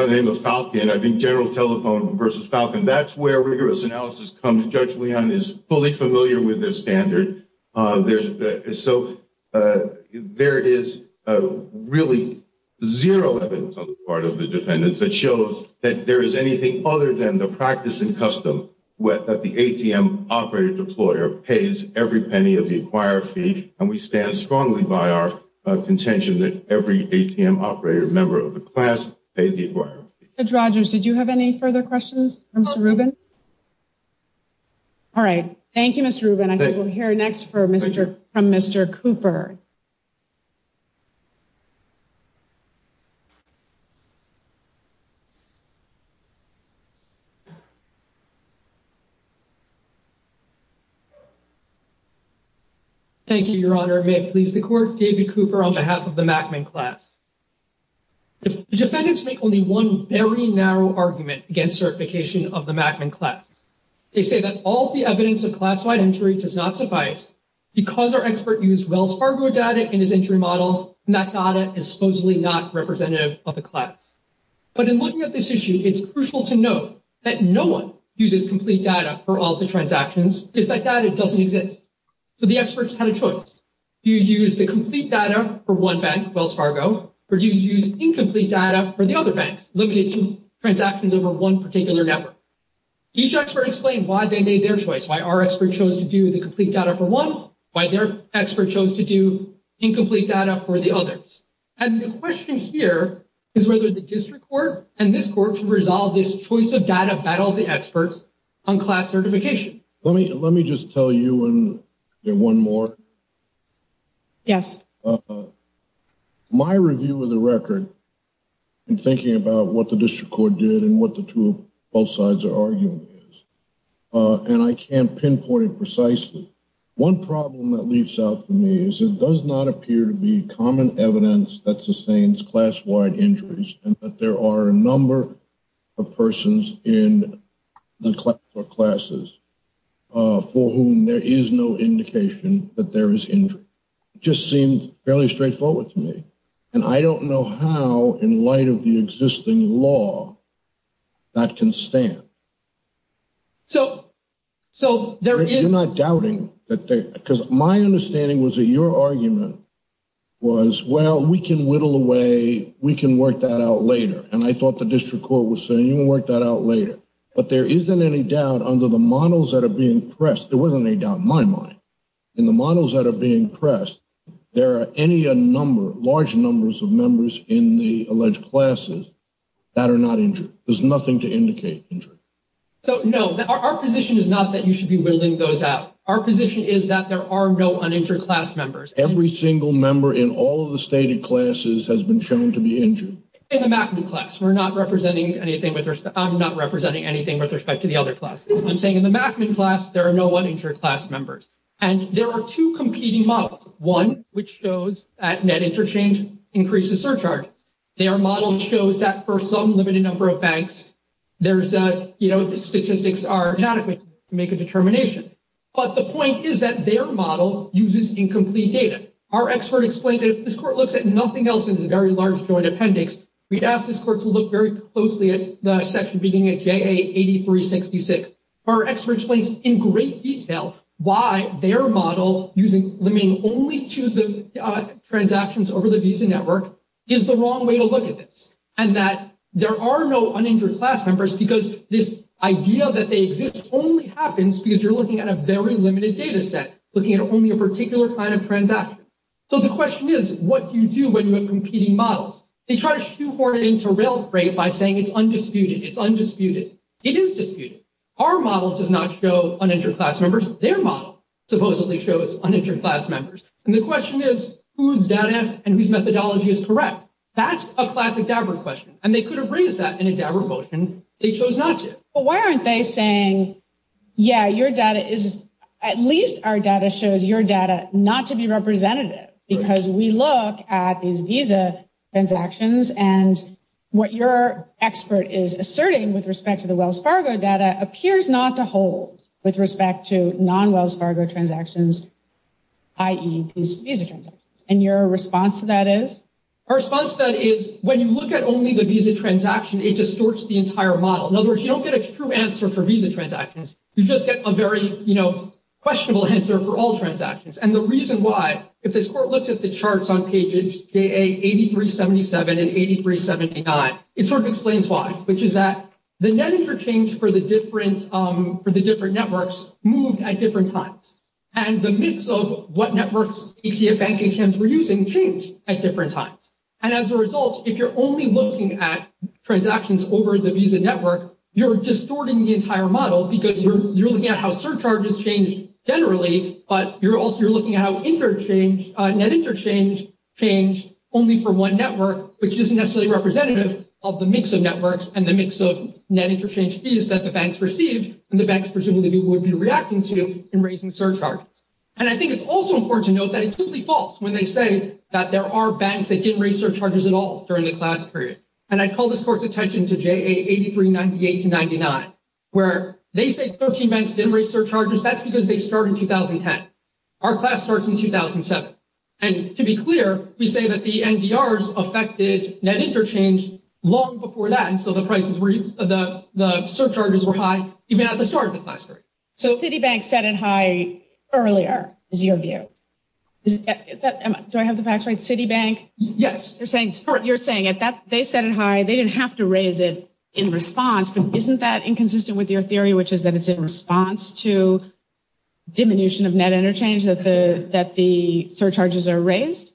name of Falcon, I think General Telephone versus Falcon, that's where rigorous analysis comes and Judge Leon is fully familiar with the standard. So, there is really zero evidence on the part of the defendants that shows that there is anything other than the practice and custom that the ATM operator and the employer pays every penny of the acquirer fee, and we stand strongly by our contention that every ATM operator member of the class pays the acquirer fee. Judge Rogers, did you have any further questions from Mr. Rubin? All right. Thank you, Mr. Rubin. I think we'll hear next from Mr. Cooper. Thank you, Your Honor. May it please the Court, David Cooper on behalf of the Mackman class. The defendants make only one very narrow argument against certification of the Mackman class. They say that all the evidence of class-wide entry does not suffice because their expert used Wells Fargo data in his entry model, and that data is supposedly not representative of the class. But in looking at this issue, it's crucial to note that no one uses complete data for all the transactions just like that. It doesn't exist. So the experts had a choice. Do you use the complete data for one bank, Wells Fargo, or do you use incomplete data for the other banks, looking at transactions over one particular network? Each expert explained why they made their choice, why our expert chose to do the complete data for one, why their expert chose to do incomplete data for the others. And the question here is whether the district court and this court can resolve this choice of data battle of the experts on class certification. Let me just tell you one more. Yes. My review of the record in thinking about what the district court did and what the truth of both sides are arguing is, and I can't pinpoint it precisely, one problem that leaps out to me is it does not appear to be common evidence that sustains class-wide entries and that there are a number of persons in the class or classes for whom there is no indication that there is injury. It just seems fairly straightforward to me. And I don't know how, in light of the existing law, that can stand. You're not doubting that they, because my understanding was that your argument was well, we can whittle away, we can work that out later. And I thought the district court was saying, you can work that out later. But there isn't any doubt under the models that are being pressed, there wasn't any doubt in my mind, in the models that are being pressed, there are any large numbers of members in the alleged classes that are not injured. There's nothing to indicate injury. So, no, our position is not that you should be whittling those out. Our position is that there are no uninjured class members. Every single member in all of the stated classes has been shown to be injured. In the MACMU class, I'm not representing anything with respect to the other classes. I'm saying in the MACMU class, there are no uninjured class members. And there are two competing models. One, which shows that net interchange increases surcharge. Their model shows that for some limited number of banks, there's statistics are inadequate to make a determination. But the point is that their model uses incomplete data. Our expert explained that if this court looks at nothing else in the very large joint appendix, we ask this court to look very closely at the section beginning at JA8366. Our expert explains in great detail why their model using, I mean, only chooses transactions over the Visa network is the wrong way to look at this, and that there are no uninjured class members because this idea that they exist only happens because you're looking at a very limited data set, looking at only a particular plan of transactions. So the question is, what do you do when you have competing models? They try to shoehorn it into real estate by saying it's undisputed. It's undisputed. It is disputed. Our model does not show uninjured class members. Their model supposedly shows uninjured class members. And the question is, whose data and whose methodology is correct? That's a classic DABRA question. And they could have raised that in a DABRA vote, and they chose not to. But why aren't they saying, yeah, your data is, at least our data shows your data not to be representative, because we look at these Visa transactions, and what your expert is asserting with respect to the Wells Fargo data appears not to hold with respect to non-Wells Fargo transactions, i.e., Visa transactions. And your response to that is? Our response to that is, when you look at only the Visa transaction, it distorts the entire model. In other words, you don't get a true answer for Visa transactions. You just get a very questionable answer for all transactions. And the reason why, if this court looks at the charts on pages 8377 and 8379, it sort of explains why, which is that the net interchange for the different networks moved at different times. And the mix of what networks ETFs and ATMs were using changed at different times. And as a result, if you're only looking at transactions over the Visa network, you're distorting the entire model because you're looking at how surcharges change generally, but you're also looking at how net interchange changed only for one network, which isn't necessarily representative of the mix of networks and the mix of net interchange fees that the banks received and the banks presumably would be reacting to in raising surcharges. And I think it's also important to note that it's completely false when they say that there are banks that didn't raise surcharges at all during the class period. And I call this course attaching to JA8398-99, where they say 13 banks didn't raise surcharges, that's because they started in 2010. Our class starts in 2007. And to be clear, we say that the NGRs affected net interchange long before that, until the surcharges were high, even at the start of the class period. So Citibank set it high earlier, as you know. Do I have the facts right? Citibank? Yes. You're saying they set it high, they didn't have to raise it in response. Isn't that inconsistent with your theory, which is that it's in response to diminution of net interchange that the surcharges are raised?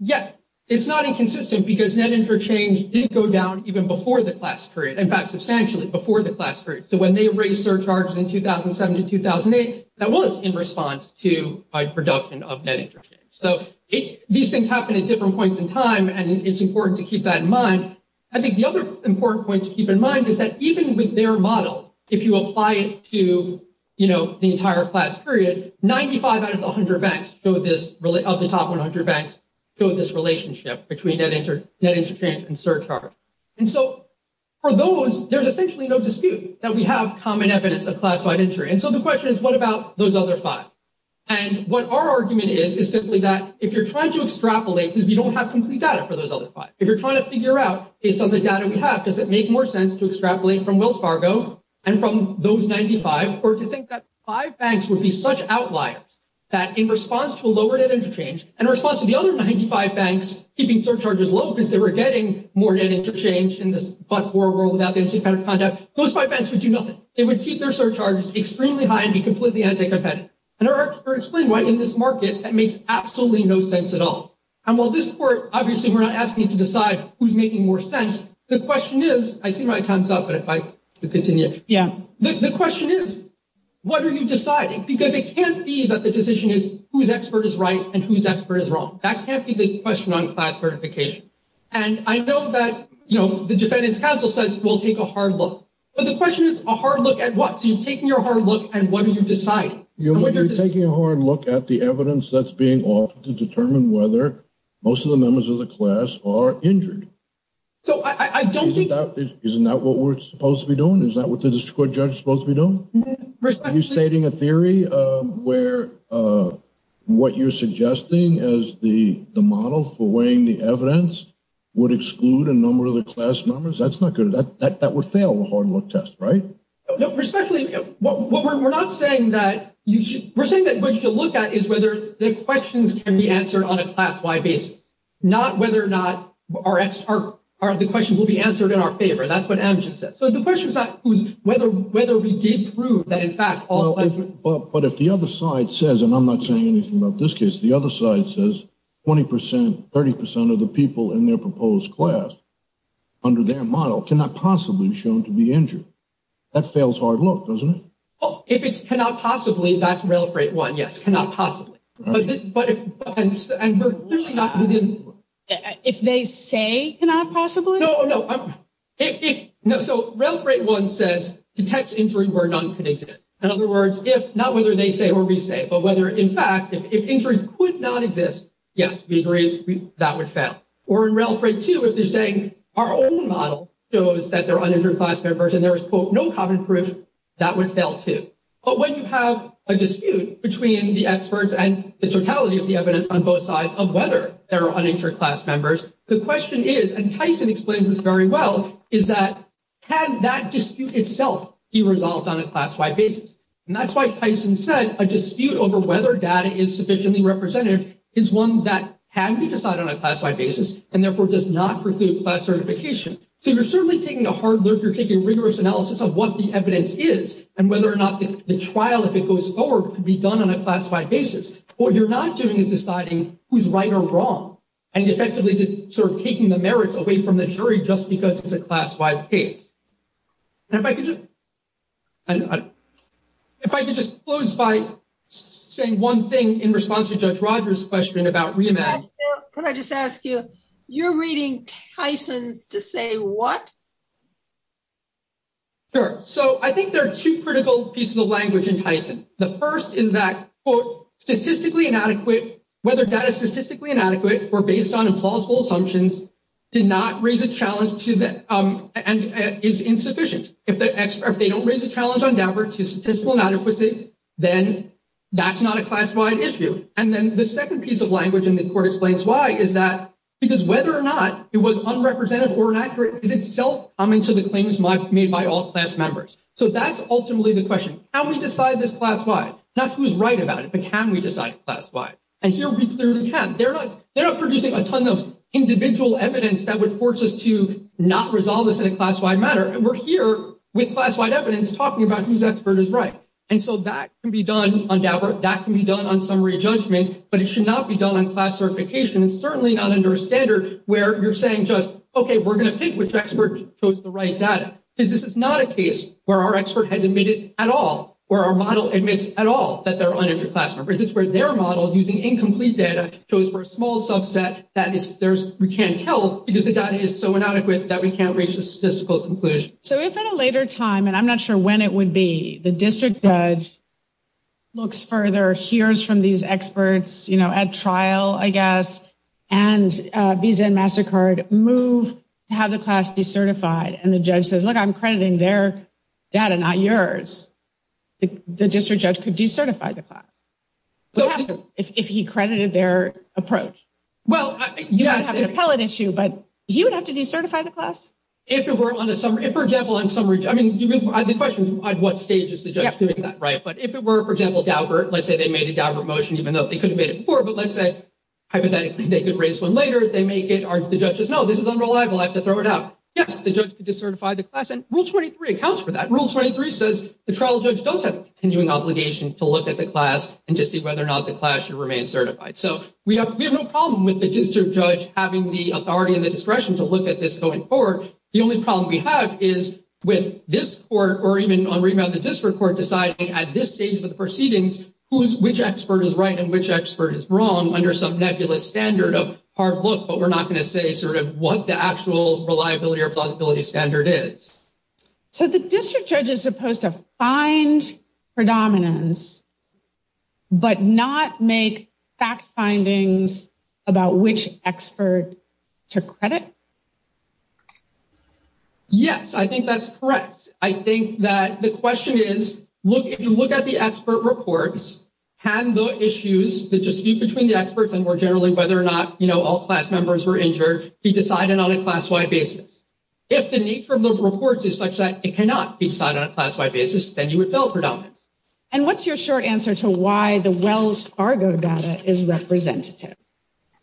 Yes. It's not inconsistent because net interchange did go down even before the class period. In fact, substantially before the class period. So when they raised surcharges in 2007 to 2008, that was in response to production of net interchange. So these things happen at different points in time, and it's important to keep that in mind. I think the other important point to keep in mind is that even with their model, if you apply it to the entire class period, 95 out of 100 banks of the top 100 banks feel this relationship between net interchange and surcharge. And so for those, there's essentially no dispute that we have common evidence of class-wide injury. And so the question is, what about those other five? And what our argument is is simply that if you're trying to extrapolate because you don't have complete data for those other five. If you're trying to figure out, based on the data we have, does it make more sense to extrapolate from Wells Fargo and from those 95, or do you think that five banks would be such outliers that in response to a lower net interchange, and in response to the other 95 banks keeping surcharges low because they were getting more net interchange in this but-for world without any kind of conduct, those five banks would do nothing. They would keep their surcharges extremely high and be completely undeclared. And our expert explained why in this market, that makes absolutely no sense at all. And while this report, obviously we're not asking you to decide who's making more sense, the question is, I see my time's up, but if I continue. The question is, what are you deciding? Because it can't be that the decision is who's expert is right and who's expert is wrong. That can't be the question on class certification. And I know that the Defendant's Counsel says we'll take a hard look. But the question is a hard look at what? So you're taking a hard look at whether you've decided. You're taking a hard look at the evidence that's being offered to determine whether most of the members of the class are injured. Isn't that what we're supposed to be doing? Is that what the district court judge is supposed to be doing? Are you stating a theory where what you're suggesting as the model for weighing the evidence would exclude a number of the class members? That's not good. That would fail the hard look test. Right? We're not saying that we're saying what you should look at is whether the questions can be answered on a class-wide basis. Not whether or not the questions will be answered in our favor. That's what Adam just said. So the question is not whether we did prove that in fact all of the But if the other side says, and I'm not saying anything about this case, the other side says 20%, 30% of the people in their proposed class under their model cannot possibly be shown to be injured. That fails hard look, doesn't it? If it's cannot possibly, that's rail freight one, yes. Cannot possibly. But if If they say cannot possibly? So rail freight one says detects injury where none can exist. In other words, not whether they say or we say, but whether in fact if injury could not exist, yes, we agree that would fail. Or in rail freight two, if they say our own model shows that they're uninjured class members and there's, quote, no common proof, that would fail too. But when you have a dispute between the experts and the totality of the evidence on both sides of whether they're uninjured class members, the question is, and Tyson explains this very well, is that can that dispute itself be resolved on a class-wide basis? And that's why Tyson said a dispute over whether data is sufficiently represented is one that can be decided on a class-wide basis and therefore does not preclude class certification. So you're certainly taking a hard look, you're taking rigorous analysis of what the evidence is and whether or not the trial, if it goes forward, could be done on a class-wide basis. What you're not doing is deciding who's right or wrong and effectively just sort of taking the merits away from the jury just because it's a class-wide case. And if I could just If I could just close by saying one thing in response to Judge Rogers' question about re-evaluation. Could I just ask you you're reading Tyson to say what? Sure. So I think there are two critical pieces of language in Tyson. The first is that quote, statistically inadequate whether data is statistically inadequate or based on implausible assumptions did not raise a challenge to the and is insufficient. If they don't raise a challenge on number to statistical inadequacy, then that's not a class-wide issue. And then the second piece of language in the court explains why is that because whether or not it was unrepresented or inaccurate is itself coming to the claims made by all class members. So that's ultimately the question. How do we decide this class-wide? Not who's right about it, but can we decide class-wide? And here we clearly can. They're not producing a ton of individual evidence that would force us to not resolve this in a class-wide manner. And we're here with class-wide evidence talking about who's expert is right. And so that can be done on that work. That can be done on summary judgment, but it should not be done on class certification. It's certainly not under a standard where you're saying just, okay, we're going to pick which expert chose the right data. This is not a case where our expert has admitted at all or our model admits at all that they're uneducated. This is where their model, using incomplete data, chose for a small subset that we can't tell because the data is so inadequate that we can't raise a statistical conclusion. So if at a later time, and I'm not sure when it would be, the district judge looks further, hears from these experts at trial, I guess, and Visa and MasterCard move to have the class decertified, and the judge says, look, I'm crediting their data, not yours. The district judge could decertify the class if he credited You don't have an appellate issue, but you'd have to decertify the class? If it were, for example, I mean, the question is what stage is the judge doing that, right? But if it were, for example, Daubert, let's say they made a Daubert motion, even though they couldn't have made it before, but let's say hypothetically they could raise one later, the judge says, no, this is unreliable, I have to throw it out. Yes, the judge could decertify the class, and Rule 23 accounts for that. Rule 23 says the trial judge does have an obligation to look at the class and to see whether or not the class should remain certified. So we have no problem with the district judge having the The only problem we have is with this court or even on remand the district court deciding at this stage of the proceedings which expert is right and which expert is wrong under some nebulous standard of hard look but we're not going to say sort of what the actual reliability or plausibility standard is. So the district judge is supposed to find predominance but not make fact findings about which expert took Yes, I think that's correct. I think that the question is, if you look at the expert reports, had those issues, the dispute between the experts and more generally whether or not all class members were injured, be decided on a class wide basis. If the need for those reports is such that it cannot be decided on a class wide basis, then you would build predominance. And what's your short answer to why the Wells Fargo data is representative?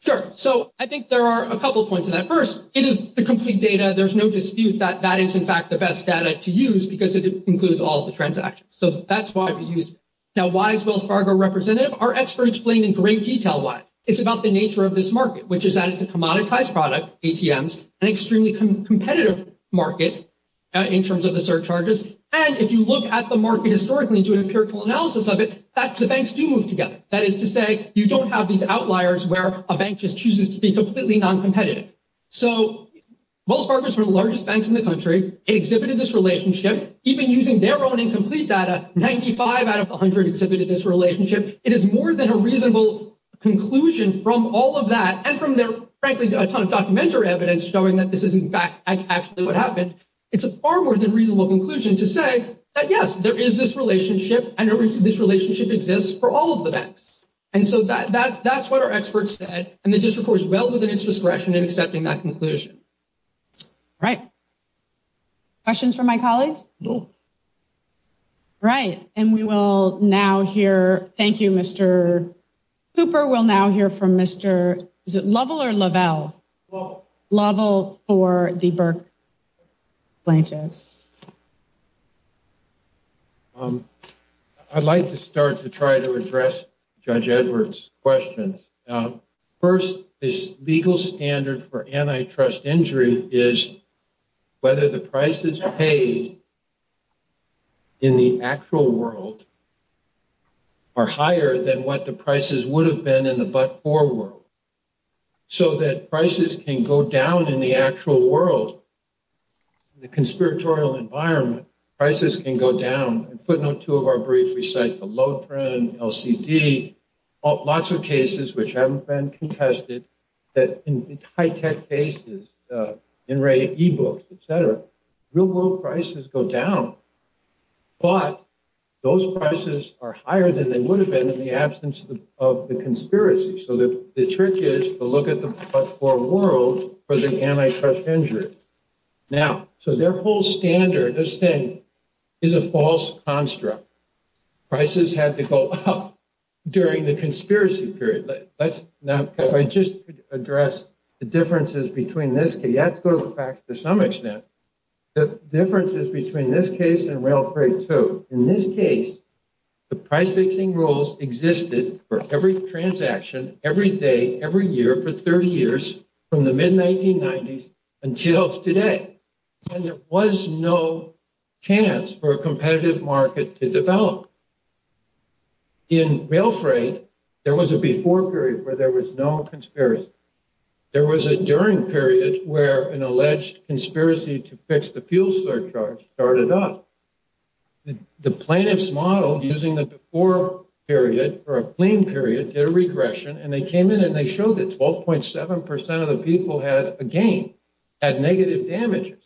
Sure, so I think there are a couple points to that. First, it is the complete data. There's no dispute that that is in fact the best data to use because it includes all the transactions. So that's why we use it. Now, why is Wells Fargo representative? Our experts explain in great detail why. It's about the nature of this market, which is that it's a commoditized product, ATMs, an extremely competitive market in terms of the surcharges and if you look at the market historically to an empirical analysis of it, the banks do move together. That is to say you don't have these outliers where a lot of money is being spent. So Wells Fargo is one of the largest banks in the country. It exhibited this relationship even using their own incomplete data, 95 out of 100 exhibited this relationship. It is more than a reasonable conclusion from all of that and from their frankly documentary evidence showing that this is in fact actually what happened. It's a far more than reasonable conclusion to say that yes, there is this relationship and this relationship exists for all of the banks. And so that's what our experts said and this is well within its discretion in accepting that conclusion. Right. Questions from my colleagues? No. Right. And we will now hear, thank you Mr. Cooper, we'll now hear from Mr. Lovell or Lovell? Lovell. Lovell for the Burke Planchette. I'd like to start to try to address Judge First, the legal standard for antitrust injury is whether the prices paid in the actual world are higher than what the prices would have been in the but-for world. So that prices can go down in the actual world. The conspiratorial environment, prices can go down. Putting on two of our briefs we cite the low trend, LCD, lots of cases which haven't been contested, that in high-tech cases, in e-books, etc., real-world prices go down. But those prices are higher than they would have been in the absence of the conspiracy. So the trick is to look at the but-for world for the antitrust injury. Now, so their whole standard, this thing, is a false construct. Prices had to go up during the conspiracy period. But let's now just address the differences between this case. That goes back to some extent. The differences between this case and rail freight. So in this case, the price fixing rules existed for every transaction, every day, every year, for 30 years, from the mid-1990s until today. And there was no chance for a competitive market to develop. In rail freight, there was a before period where there was no conspiracy. There was a during period where an alleged conspiracy to fix the fuel surcharge started up. The plaintiffs modeled using the before period for a plain period, their regression, and they came in and they showed that 12.7% of the people had a gain, had negative damages.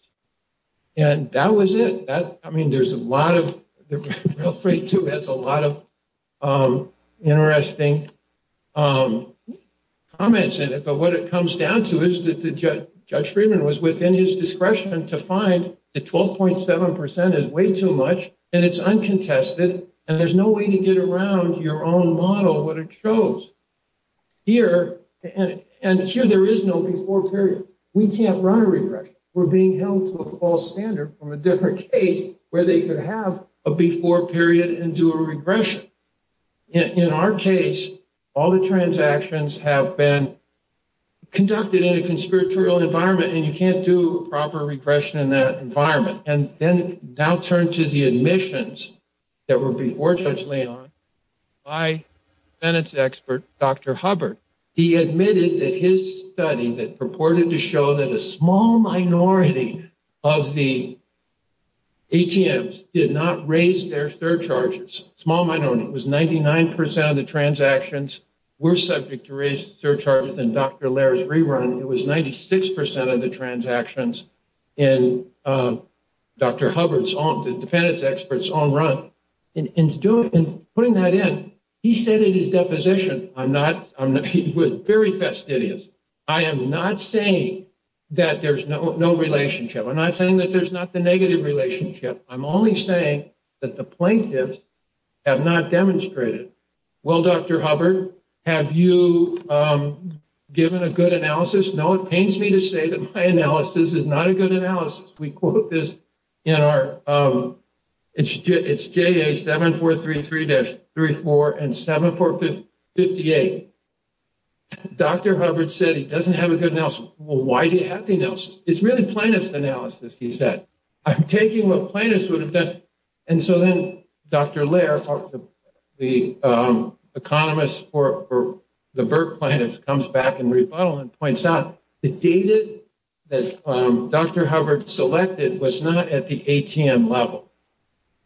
And that was it. I mean, there's a lot of, rail freight too has a lot of interesting comments in it. But what it comes down to is that Judge Friedman was within his discretion to find that 12.7% is way too much and it's uncontested, and there's no way to get around your own model of what it shows. Here, and here there is no before period. We can't nail to a false standard from a different case where they could have a before period and do a regression. In our case, all the transactions have been conducted in a conspiratorial environment and you can't do a proper regression in that environment. And then, now turn to the admissions that were before Judge Leon by Bennett's expert, Dr. Hubbard. He admitted that his study that the small minority of the ATMs did not raise their surcharges. Small minority. It was 99% of the transactions were subject to raised surcharges in Dr. Laird's rerun. It was 96% of the transactions in Dr. Hubbard's own, the Bennett's expert's own run. And putting that in, he said in his deposition, he was very fastidious, I am not saying that there's no relationship. I'm not saying that there's not the negative relationship. I'm only saying that the plaintiffs have not demonstrated. Well, Dr. Hubbard, have you given a good analysis? No, it pains me to say that my analysis is not a good analysis. We quote this in our, it's J.A. 7433-34 and 7458. Dr. Hubbard said he doesn't have a good analysis. Well, why do you have the analysis? It's really plaintiff's analysis, he said. I'm taking what plaintiffs would have done. And so then Dr. Laird, the economist for the Burke plaintiffs comes back in rebuttal and points out the data that Dr. Hubbard selected was not at the ATM level.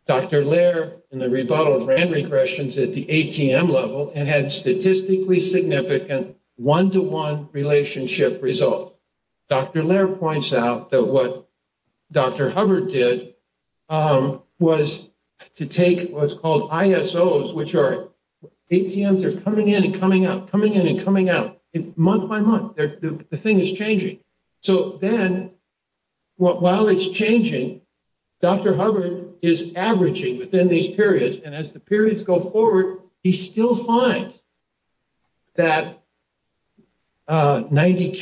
Dr. Laird, in the rebuttal, ran regressions at the ATM level and had statistically significant one-to-one relationship results. Dr. Laird points out that what Dr. Hubbard did was to take what's called ISOs which are ATMs are coming in and coming out, coming in and coming out month by month. The thing is changing. So then while it's changing, Dr. Hubbard is averaging within these periods and as the periods go forward, he still finds that 92%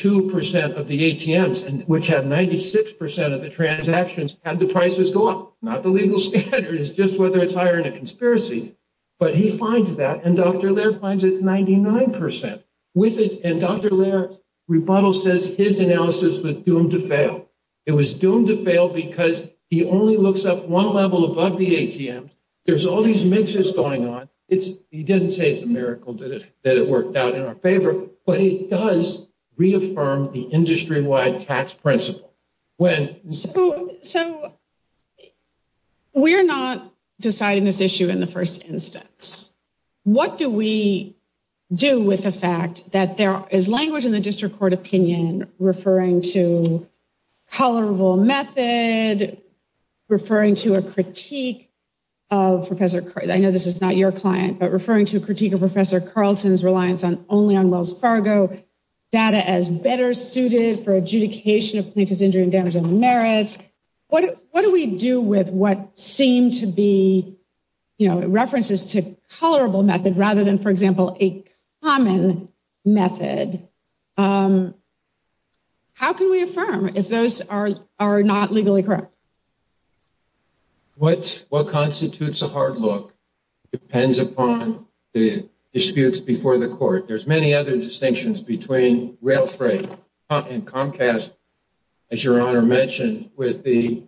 of the ATMs, which had 96% of the transactions, had the prices gone. Not the legal standard, it's just whether it's hiring a conspiracy. But he finds that and Dr. Laird finds it's 99%. And Dr. Laird's rebuttal says his analysis was doomed to fail. It was doomed to fail because he only looks up one level above the ATMs. There's all these mixers going on. He didn't say it's a miracle that it worked out in our favor, but he does reaffirm the industry wide tax principle. So we're not deciding this issue in the first instance. What do we do with the fact that there is language in the district court opinion referring to tolerable method, referring to a critique of Professor Carlton's reliance only on Wells Fargo, data as better suited for adjudication of plaintiff's injury and damage of merit. What do we do with what seems to be references to tolerable method rather than, for example, a common method? How can we affirm if those are not legally correct? What constitutes a hard look depends upon the disputes before the court. There's many other distinctions between Rail Freight and Comcast as your Honor mentioned with the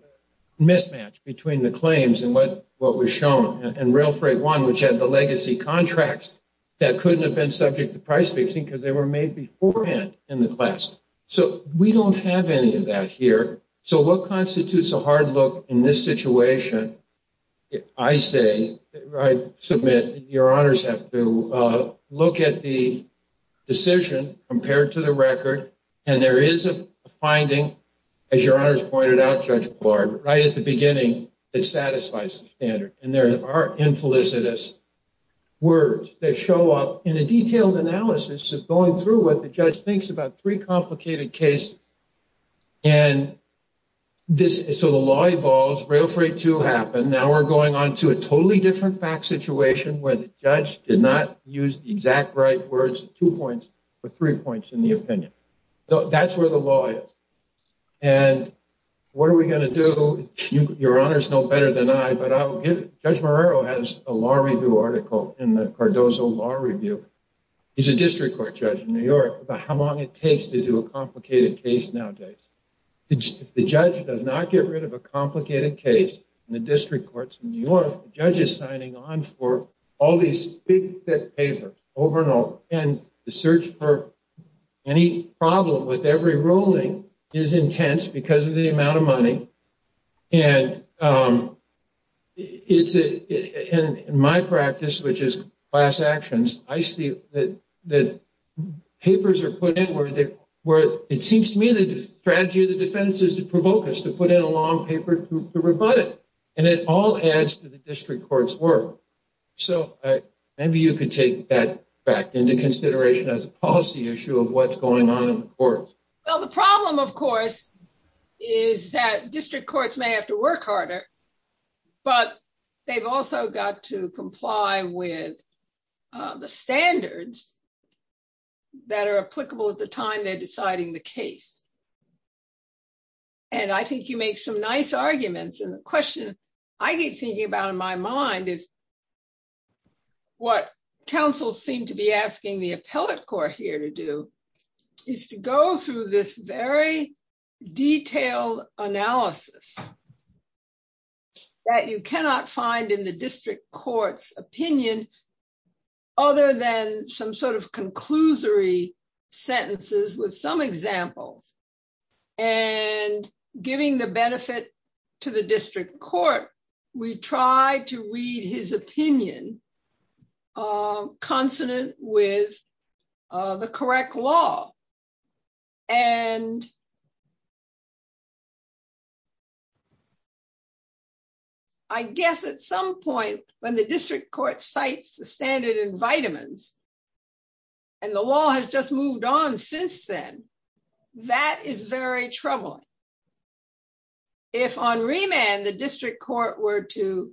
mismatch between the claims and what was shown and Rail Freight 1 which had the legacy contracts that couldn't have been subject to price fixing because they were made beforehand in the class. We don't have any of that here. What constitutes a hard look in this situation? I say, I submit, your Honors have to look at the decision compared to the record and there is a finding as your Honors pointed out, Judge Clark, right at the beginning, that satisfies the standard and there are infelicitous words that show up in a detailed analysis of going through what the judge thinks about three complicated cases and so the law evolves, Rail Freight 2 happened, now we're going on to a totally different fact situation where the judge did not use the exact right words, two points, but three points in the opinion. So that's where the law is. And what are we going to do? Your Honors know better than I, but Judge Marrero has a law review article in the Cardozo Law Review. He's a district court judge in New York about how long it takes to do a complicated case nowadays. The judge does not get rid of a complicated case in the district courts in New York. The judge is signing on for all these big thick papers, over and over and the search for any problem with every ruling is intense because of the amount of money. And in my practice, which is class actions, I see that papers are put in where it seems to me the strategy of the defense is to provoke us, to put in a long paper to rebut it. And it all adds to the district court's work. So maybe you could take that back into consideration as a policy issue of what's going on in the courts. Well, the problem, of course, is that district courts may have to work harder, but they've also got to comply with the rules that are applicable at the time they're deciding the case. And I think you make some nice arguments. And the question I keep thinking about in my mind is what counsels seem to be asking the appellate court here to do is to go through this very detailed analysis that you cannot find in the district court's opinion other than some sort of conclusory sentences with some examples. And giving the benefit to the district court, we try to read his opinion consonant with the correct law. And I guess at some point when the district court cites the standard in vitamins and the law has just moved on since then, that is very troubling. If on remand the district court were to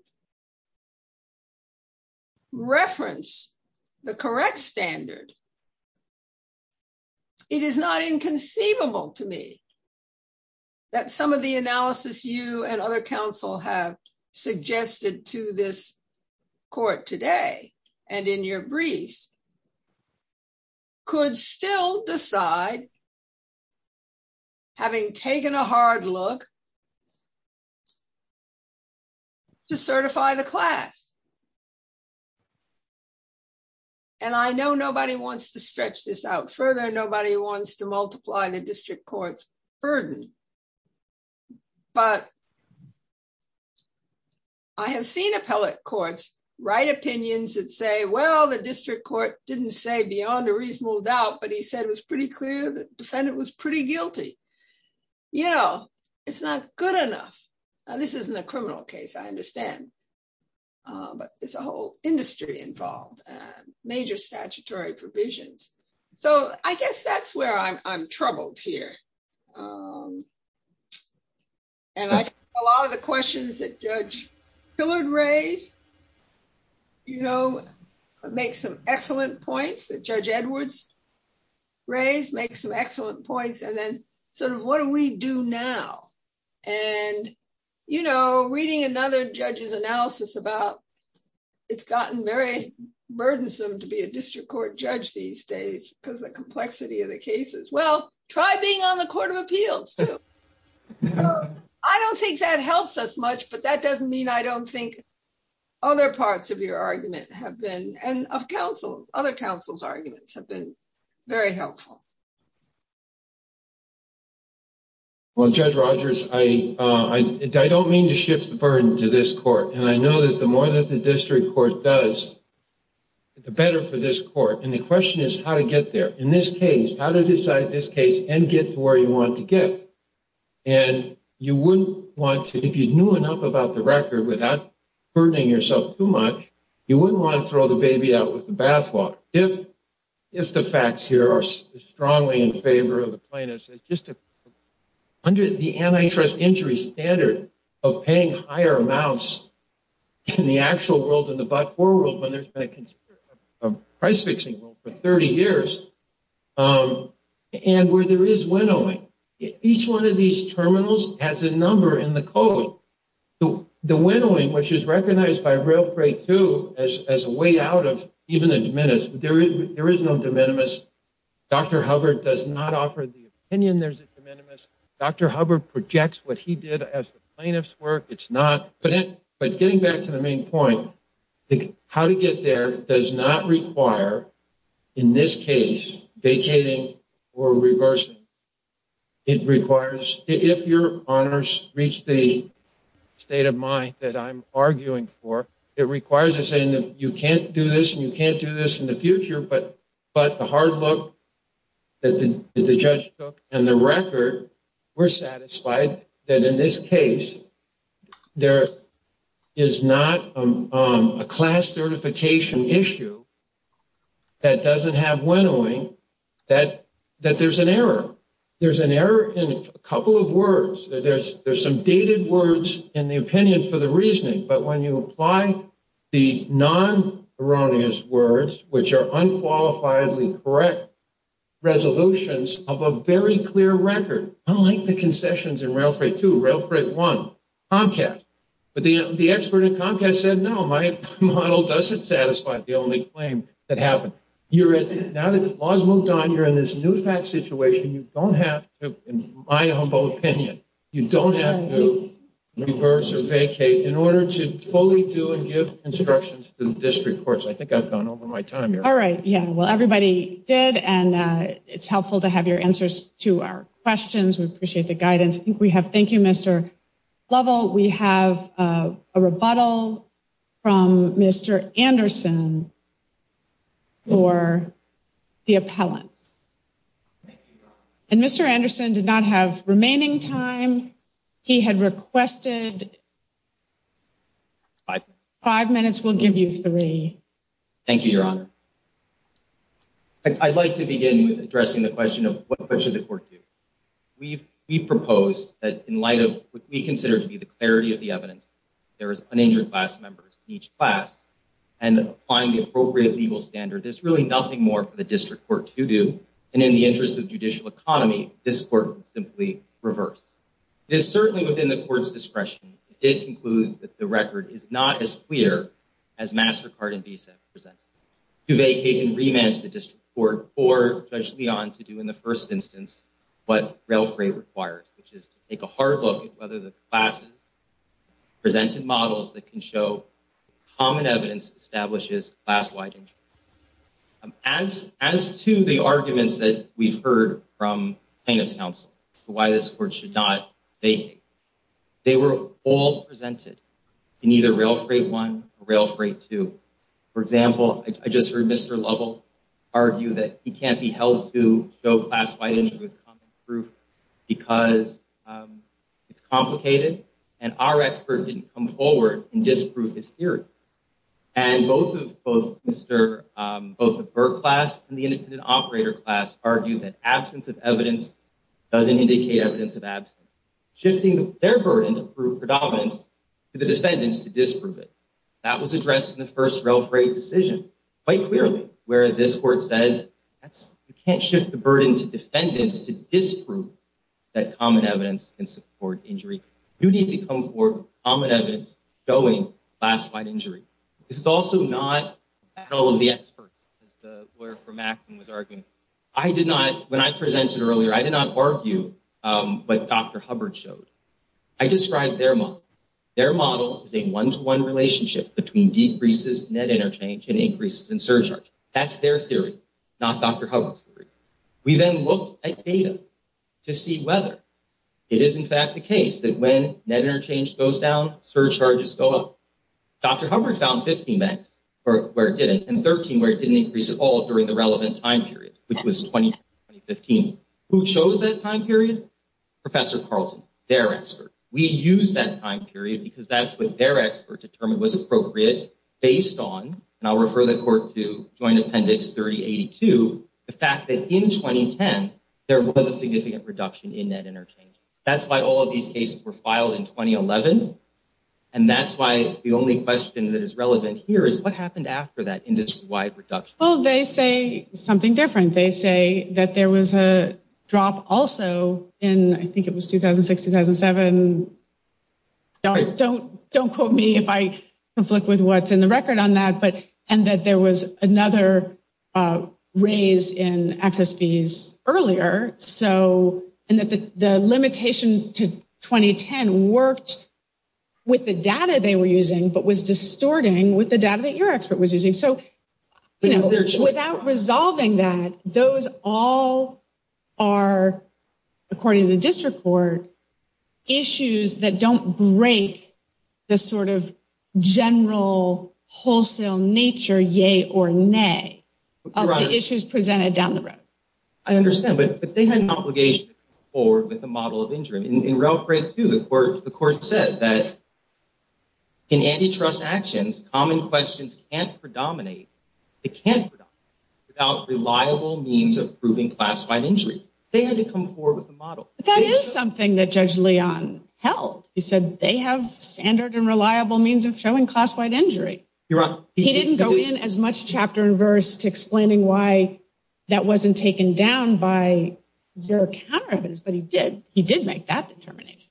reference the correct standard, it is not inconceivable to me that some of the analysis you and other counsel have suggested to this court today and in your brief could still decide having taken a hard look to certify the class. And I know nobody wants to stretch this out further. Nobody wants to multiply the district court's burden. But I have seen appellate courts write opinions that say, well, the district court didn't say beyond a reasonable doubt, but he said it was pretty clear the defendant was pretty guilty. You know, it's not good enough. This isn't a criminal case, I understand. It's a whole industry involved. Major statutory provisions. So I guess that's where I'm troubled here. And I think a lot of the questions that Judge Hillard raised, you know, make some excellent points that Judge Edwards raised, make some excellent points, and then sort of what do we do now? And, you know, reading another judge's analysis about it's gotten very burdensome to be a district court judge these days because of the complexity of the cases. Well, try being on the Court of Appeals. I don't think that helps us much, but that doesn't mean I don't think other parts of your argument have been, and of counsel's, other counsel's arguments have been very helpful. Well, Judge Rogers, I don't mean to shift the burden to this court, and I know that the more that the district court does, the better for this court. And the question is how to get there. In this case, how to decide this case and get to where you want to get. And you wouldn't want to, if you knew enough about the record without burdening yourself too much, you wouldn't want to throw the baby out with the bathwater. If the facts here are strongly in favor of the plaintiffs, under the antitrust injury standard of paying higher amounts in the actual world than the price fixing for 30 years, and where there is winnowing, each one of these terminals has a number in the code. The winnowing, which is recognized by Rail Freight 2 as a way out of even the de minimis, there is no de minimis. Dr. Hubbard does not offer the opinion there's a de minimis. Dr. Hubbard projects what he did as the plaintiffs work. It's not, but getting back to the main point, how to get there does not require in this case, vacating or reversing. It requires, if your honors reach the state of mind that I'm arguing for, it requires saying that you can't do this and you can't do this in the future, but the hard look that the judge took and the record were satisfied that in this case, there is not a class certification issue that doesn't have winnowing, that there's an error. There's an error in a couple of words. There's some dated words in the opinion for the reasoning, but when you apply the non-erroneous words, which are unqualifiedly correct resolutions unlike the concessions in Rail Freight 2, Rail Freight 1, Comcast, but the expert in Comcast said, no, my model doesn't satisfy the only claim that happened. Now that the laws moved on during this new tax situation, you don't have to, in my humble opinion, you don't have to reverse or vacate in order to fully do and give instructions to this report. I think I've gone over my time here. All right, yeah. Well, everybody did, and it's helpful to have your answers to our questions. We appreciate the guidance. I think we have, thank you, Mr. Lovell, we have a rebuttal from Mr. Anderson for the appellant. And Mr. Anderson did not have remaining time. He had requested five minutes. We'll give you three. Thank you, Your Honor. I'd like to begin with addressing the question of what should the court do? We've proposed that in light of what we consider to be the clarity of the evidence, there is an injured class member in each class and applying the appropriate legal standard, there's really nothing more for the district court to do, and in the interest of judicial economy, this court would simply reverse. It is certainly within the court's discretion to conclude that the record is not as clear as MasterCard and VISA present. To vacate and rematch the district court or Judge Leon to do in the first instance what Rail Freight requires, which is to take a hard look at whether the class presented models that can show common evidence establishes class-wide injury. As to the arguments that we heard from plaintiff's counsel as to why this court should not vacate, they were all presented in either Rail Freight 1 or Rail Freight 2. For example, I just heard Mr. Lovell argue that he can't be held to show class-wide injury as common proof because it's complicated, and our experts didn't come forward and disprove this theory. And both of Mr. both the Burt class and the innocent operator class argued that absence of evidence doesn't indicate evidence of absence, shifting their burden of proof of evidence to the defendants to disprove it. That was addressed in the first Rail Freight decision quite clearly, where this court said, you can't shift the burden to defendants to disprove that common evidence can support injury. You need to come forward with common evidence showing class-wide injury. This is also not the battle of the experts as the lawyer for Maxon was arguing. I did not, when I presented earlier, I did not argue what Dr. Hubbard showed. I described their model. Their model is a one-to-one relationship between decreases in net interchange and increases in surcharge. That's their theory, not Dr. Hubbard's theory. We then looked at data to see whether it is in fact the case that when net interchange goes down, surcharges go up. Dr. Hubbard found 15 where it didn't, and 13 where it didn't increase at all during the relevant time period, which was 2015. Who chose that time period? Professor Carlson, their expert. We used that time period because that's what their expert determined was appropriate based on, and I'll refer the court to Joint Appendix 3082, the fact that in 2010 there was a significant reduction in net interchange. That's why all of these cases were filed in 2011, and that's why the only question that is relevant here is what happened after that industry-wide reduction. Well, they say something different. They say that there was a drop also in, I think it was 2006, 2007. Don't quote me if I conflict with what's in the record on that, and that there was another raise in access fees earlier, and that the limitations to 2010 worked with the data they were using, but was distorting with the data that your expert was using. Without resolving that, those all are, according to this report, issues that don't break the sort of general wholesale nature, yay or nay, of the issues presented down the road. I understand, but they had an obligation to come forward with a model of injury. In Route 32, the court said that in antitrust actions, common questions can't predominate, without reliable means of proving classified injury. They had to come forward with a model. That is something that Judge Leon held. He said they have standard and reliable means of showing classified injury. He didn't go in as much chapter and verse to explaining why that wasn't taken down by their counter-evidence, but he did. He did make that determination.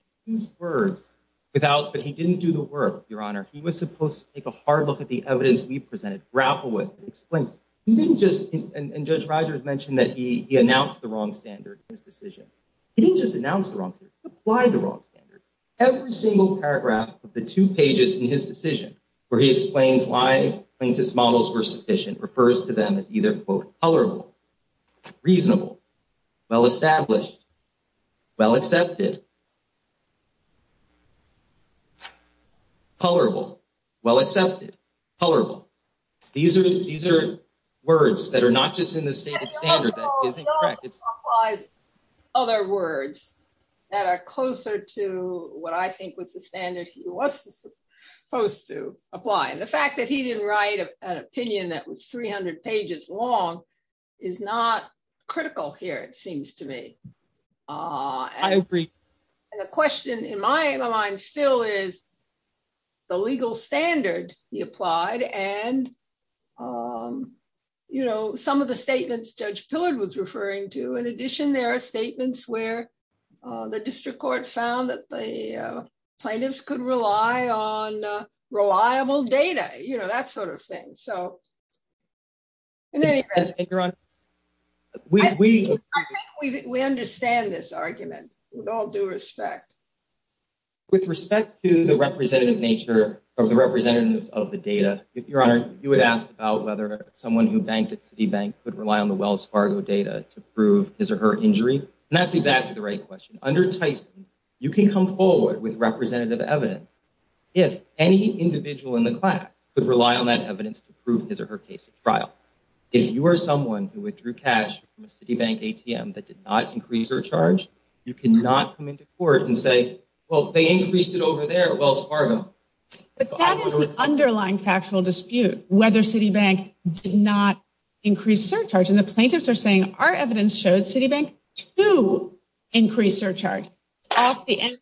But he didn't do the work, Your Honor. He was supposed to take a hard look at the evidence we presented, grapple with, and explain. He didn't just, and Judge Reiser has mentioned that he announced the wrong standard in his decision. He didn't just announce the wrong standard. He applied the wrong standard. Every single paragraph of the two pages in his decision where he explains why plaintiff's models were sufficient refers to them as either quote, colorable, reasonable, well-established, well-accepted. Colorable, well-accepted, colorable. These are words that are not just in the standard. Other words that are closer to what I think was the standard he was supposed to apply. The fact that he didn't write an opinion that was 300 pages long is not critical here, it seems to me. I agree. The question in my mind still is the legal standard he applied and some of the statements Judge Pillard was referring to. In addition, there are statements where the district court found that the plaintiffs could rely on reliable data, that sort of thing. I think we understand this argument with all due respect. With respect to the representative nature of the representatives of the data, if you would ask about whether someone who banked at Citibank could rely on the Wells Fargo data to prove his or her injury, that's exactly the right question. Under Tyson, you can come forward with representative evidence if any individual in the class could rely on that evidence to prove his or her case at trial. If you are someone who withdrew cash from a Citibank ATM that did not increase their charge, you cannot come into court and say, well, they increased it over there at Wells Fargo. That is an underlying factual dispute, whether Citibank did not increase their charge. The plaintiffs are saying our evidence showed Citibank to increase their charge at the end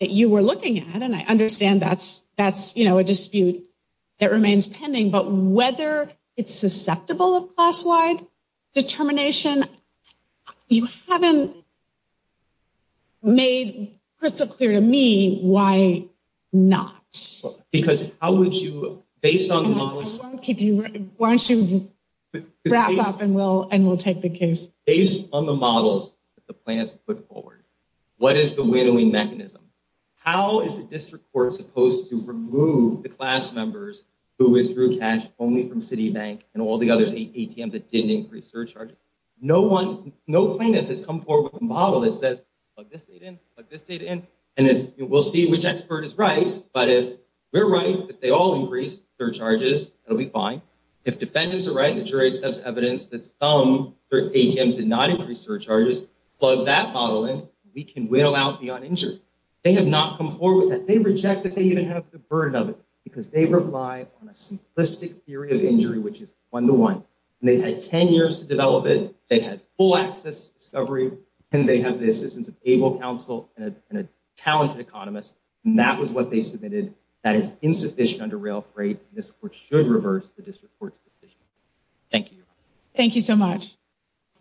that you were looking at. I understand that's a dispute that remains pending, but whether it's susceptible of class-wide determination, you haven't made crystal clear to me why not. Because how would you, based on the models... Why don't you wrap up and we'll take the case. Based on the models that the plaintiffs put forward, what is the whittling mechanism? How is the district court supposed to remove the class members who withdrew cash only from Citibank and all the other ATMs that did increase their charge? No plaintiff has come forward with a model that says, plug this model in and see which expert is right, but if they're right, if they all increase their charges, it'll be fine. If defendants are right, the jury has evidence that some ATMs did not increase their charges, plug that model in, we can whittle out the uninjured. They have not come forward with that. They reject that they even have the burden of it, because they rely on a simplistic theory of injury, which is one-to-one. And they had 10 years to develop it, they had full access to discovery, and they have the assistance of able counsel and a talented economist, and that was what they submitted, that it's insufficient under real freight, the district court should reverse the district court's decision. Thank you. Thank you so much.